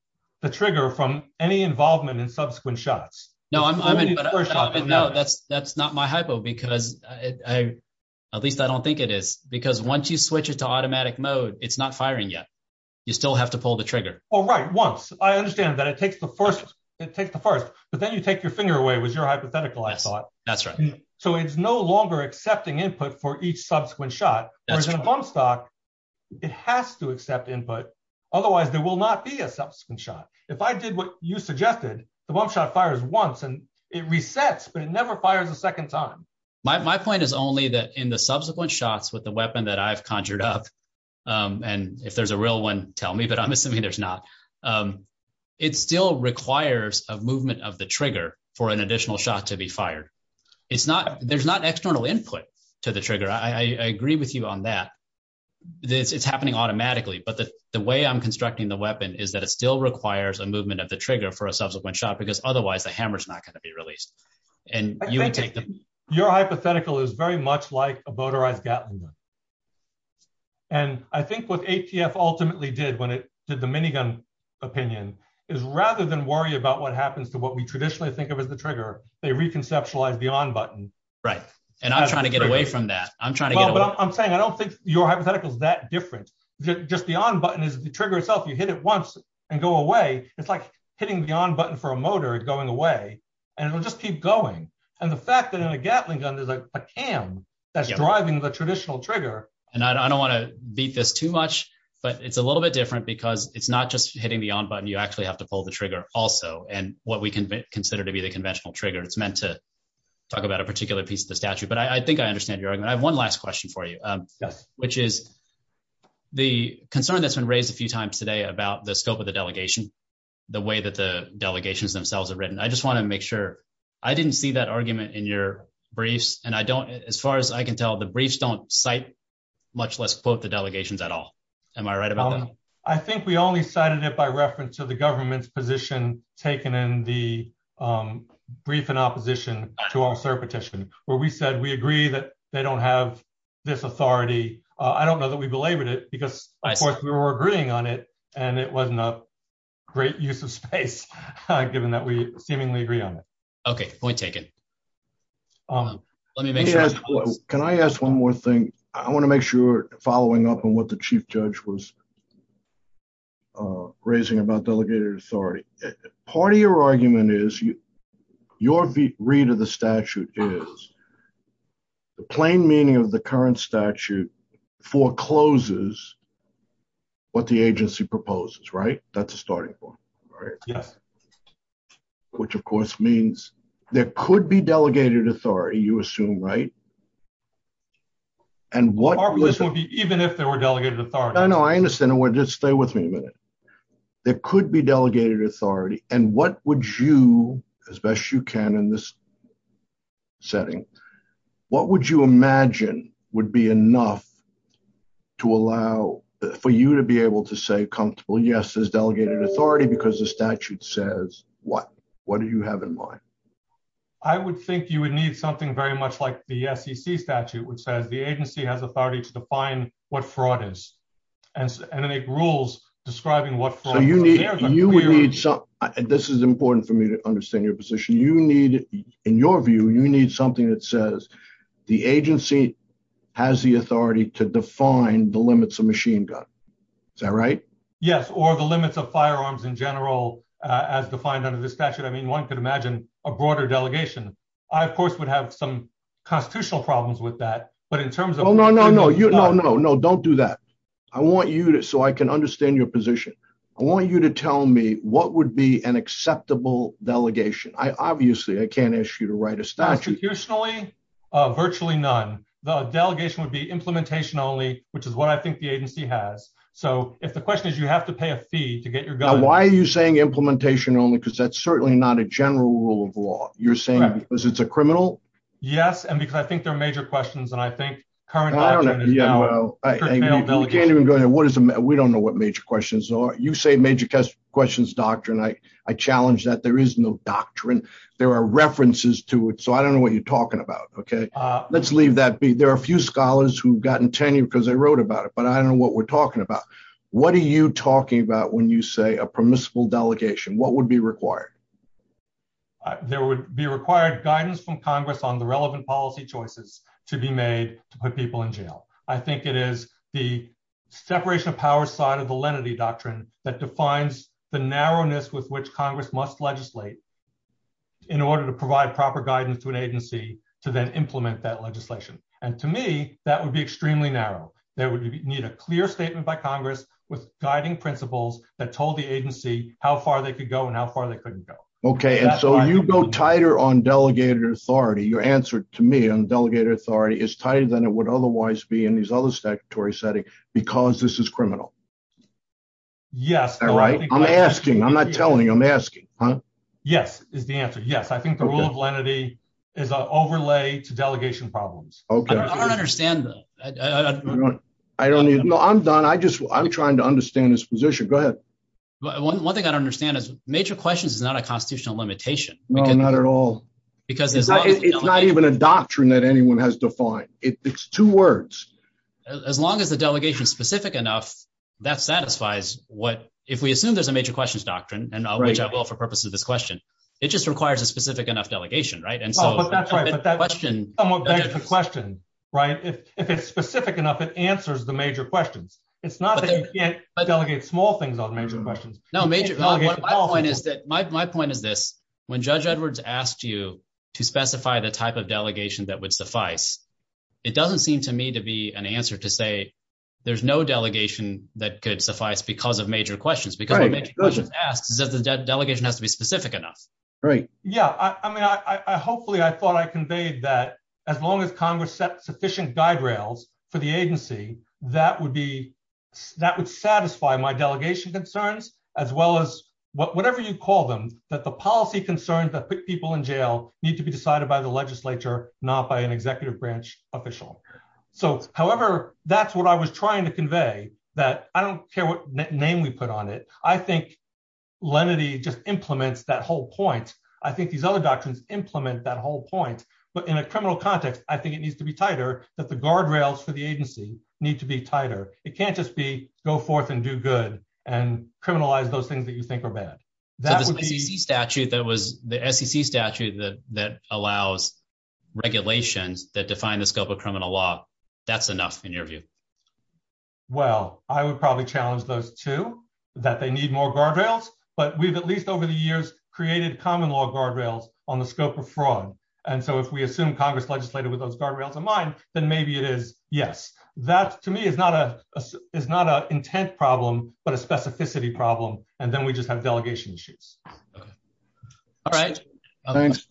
the trigger from any involvement in subsequent shots. No, that's not my hypo, because at least I don't think it is. Because once you switch it to automatic mode, it's not firing yet. You still have to pull the trigger. Oh, right, once. I understand that it takes the first, but then you take your finger away, was your hypothetical, I thought. That's right. So, it's no longer accepting input for each subsequent shot. Whereas in a bump stock, it has to accept input. Otherwise, there will not be a subsequent shot. If I did what you suggested, the bump shot fires once, and it resets, but it never fires a second time. My point is only that in the subsequent shots with the weapon that I've conjured up, and if there's a real one, tell me, but I'm assuming there's not, it still requires a movement of the trigger for an additional shot to be fired. There's not external input to the trigger. I agree with you on that. It's happening automatically, but the way I'm constructing the weapon is that it still requires a movement of the trigger for a subsequent shot, because otherwise the hammer's not going to be released. Your hypothetical is very much like a motorized gatling gun. And I think what ATF ultimately did when it did the minigun opinion is rather than worry about what happens to what we traditionally think of as the trigger, they reconceptualize the on button. Right. And I'm trying to get away from that. Well, I'm saying I don't think your hypothetical is that different. Just the on button is the trigger itself. You hit it once and go away. It's like hitting the on button for a motor going away, and it'll just keep going. And the fact that in a gatling gun, there's a cam that's driving the traditional trigger. And I don't want to beat this too much, but it's a little bit different because it's not just hitting the on button. You actually have to pull the trigger also. And what we consider to be the conventional trigger, it's meant to talk about a particular piece of the statute. But I think I understand your argument. I have one last question for you, which is the concern that's been raised a few times today about the scope of the delegation, the way that the delegations themselves have written. I just want to make sure. I didn't see that argument in your briefs. And as far as I can tell, the briefs don't cite much less quote the delegations at all. Am I right about that? I think we only cited it by reference to the government's position taken in the brief in opposition to our petition, where we said we agree that they don't have this authority. I don't know that we belabored it because, of course, we were agreeing on it, and it wasn't a great use of space, given that we seemingly agree on it. Okay, we'll take it. Can I ask one more thing? I want to make sure following up on what the chief judge was raising about delegated authority. Part of your argument is your read of the statute is the plain meaning of the current statute forecloses what the agency proposes, right? That's a starting point. Yeah. Which, of course, means there could be delegated authority, you assume, right? Even if there were delegated authority. I know, I understand. Just stay with me a minute. There could be delegated authority. And what would you, as best you can in this setting, what would you imagine would be enough to allow for you to be able to say comfortably, yes, there's delegated authority because the statute says so. What do you have in mind? I would think you would need something very much like the SEC statute, which says the agency has authority to define what fraud is. And they make rules describing what fraud is. This is important for me to understand your position. In your view, you need something that says the agency has the authority to define the limits of machine gun. Is that right? Yes, or the limits of firearms in general as defined under this statute. I mean, one could imagine a broader delegation. I, of course, would have some constitutional problems with that. But in terms of- No, no, no. Don't do that. I want you to, so I can understand your position, I want you to tell me what would be an acceptable delegation. Obviously, I can't ask you to write a statute. Constitutionally, virtually none. The delegation would be implementation only, which is what I think the agency has. So, if the question is you have to pay a fee to get your delegation- Now, why are you saying implementation only? Because that's certainly not a general rule of law. You're saying because it's a criminal? Yes, and because I think there are major questions, and I think current- I don't know. You can't even go in there. We don't know what major questions are. You say major questions doctrine. I challenge that. There is no doctrine. There are references to it. So, I don't know what you're talking about, okay? Let's leave that be. There are a few scholars who have gotten tangy because they wrote about it, but I don't know what we're talking about. What are you talking about when you say a permissible delegation? What would be required? There would be required guidance from Congress on the relevant policy choices to be made to put people in jail. I think it is the separation of powers side of the lenity doctrine that defines the narrowness with which Congress must legislate in order to provide proper guidance to an agency to then implement that legislation. And to me, that would be extremely narrow. They would need a clear statement by Congress with guiding principles that told the agency how far they could go and how far they couldn't go. Okay, and so you go tighter on delegated authority. Your answer to me on delegated authority is tighter than it would otherwise be in these other statutory settings because this is criminal. Yes. Am I right? I'm asking. I'm not telling you. I'm asking. Yes, is the answer. Yes, I think the rule of lenity is an overlay to delegation problems. Okay. I don't understand. I don't need. No, I'm done. I just, I'm trying to understand this position. Go ahead. One thing I don't understand is major questions is not a constitutional limitation. No, not at all. Because it's not even a doctrine that anyone has defined. It's two words. As long as the delegation is specific enough, that satisfies what, if we assume there's a major questions doctrine, and which I will for purposes of this question. It just requires a specific enough delegation, right? And so, but that's right. But that's a question, right? If it's specific enough, it answers the major questions. It's not that you can't delegate small things on major questions. No, my point is that my point is this. When judge Edwards asked you to specify the type of delegation that would suffice. It doesn't seem to me to be an answer to say there's no delegation that could suffice because of major questions. The delegation has to be specific enough. Right. Yeah, I mean, hopefully I thought I conveyed that as long as Congress set sufficient guide rails for the agency, that would be, that would satisfy my delegation concerns, as well as whatever you call them, that the policy concerns that put people in jail need to be decided by the legislature, not by an executive branch official. So, however, that's what I was trying to convey, that I don't care what name we put on it. I think lenity just implements that whole point. I think these other doctrines implement that whole point. But in a criminal context, I think it needs to be tighter, that the guardrails for the agency need to be tighter. It can't just be go forth and do good and criminalize those things that you think are bad. The SEC statute that allows regulations that define the scope of criminal law, that's enough in your view. Well, I would probably challenge those too, that they need more guardrails. But we've at least over the years created common law guardrails on the scope of fraud. And so if we assume Congress legislated with those guardrails in mind, then maybe it is. Yes, that to me is not an intent problem, but a specificity problem. And then we just have delegation issues. All right. Thanks.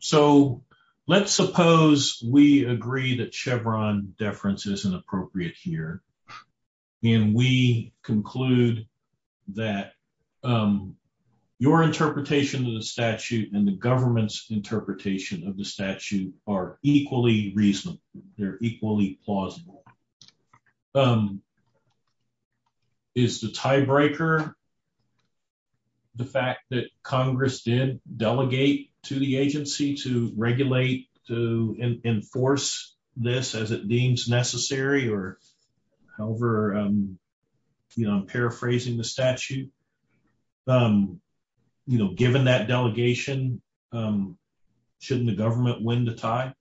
So let's suppose we agree that Chevron deference is inappropriate here. And we conclude that your interpretation of the statute and the government's interpretation of the statute are equally reasonable. They're equally plausible. Is the tiebreaker the fact that Congress did delegate to the agency to regulate, to enforce this as it deems necessary? Or however, you know, I'm paraphrasing the statute. You know, given that delegation, shouldn't the government win the tie?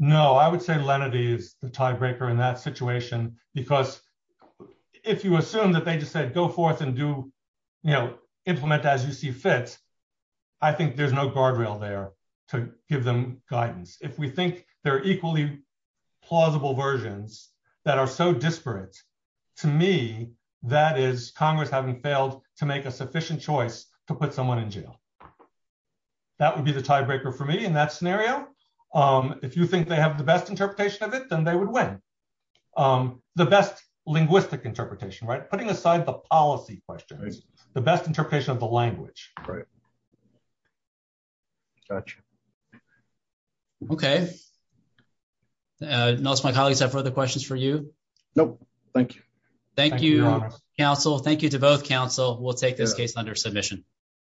No, I would say lenity is the tiebreaker in that situation. Because if you assume that they just said go forth and do, you know, implement as you see fit, I think there's no guardrail there to give them guidance. If we think they're equally plausible versions that are so disparate, to me, that is Congress having failed to make a sufficient choice to put someone in jail. That would be the tiebreaker for me in that scenario. If you think they have the best interpretation of it, then they would win. The best linguistic interpretation, right? Putting aside the policy questions, the best interpretation of the language. Right. Gotcha. Okay. Nelson, my colleagues, do I have further questions for you? No. Thank you. Thank you, counsel. Thank you to both counsel. We'll take this case under submission.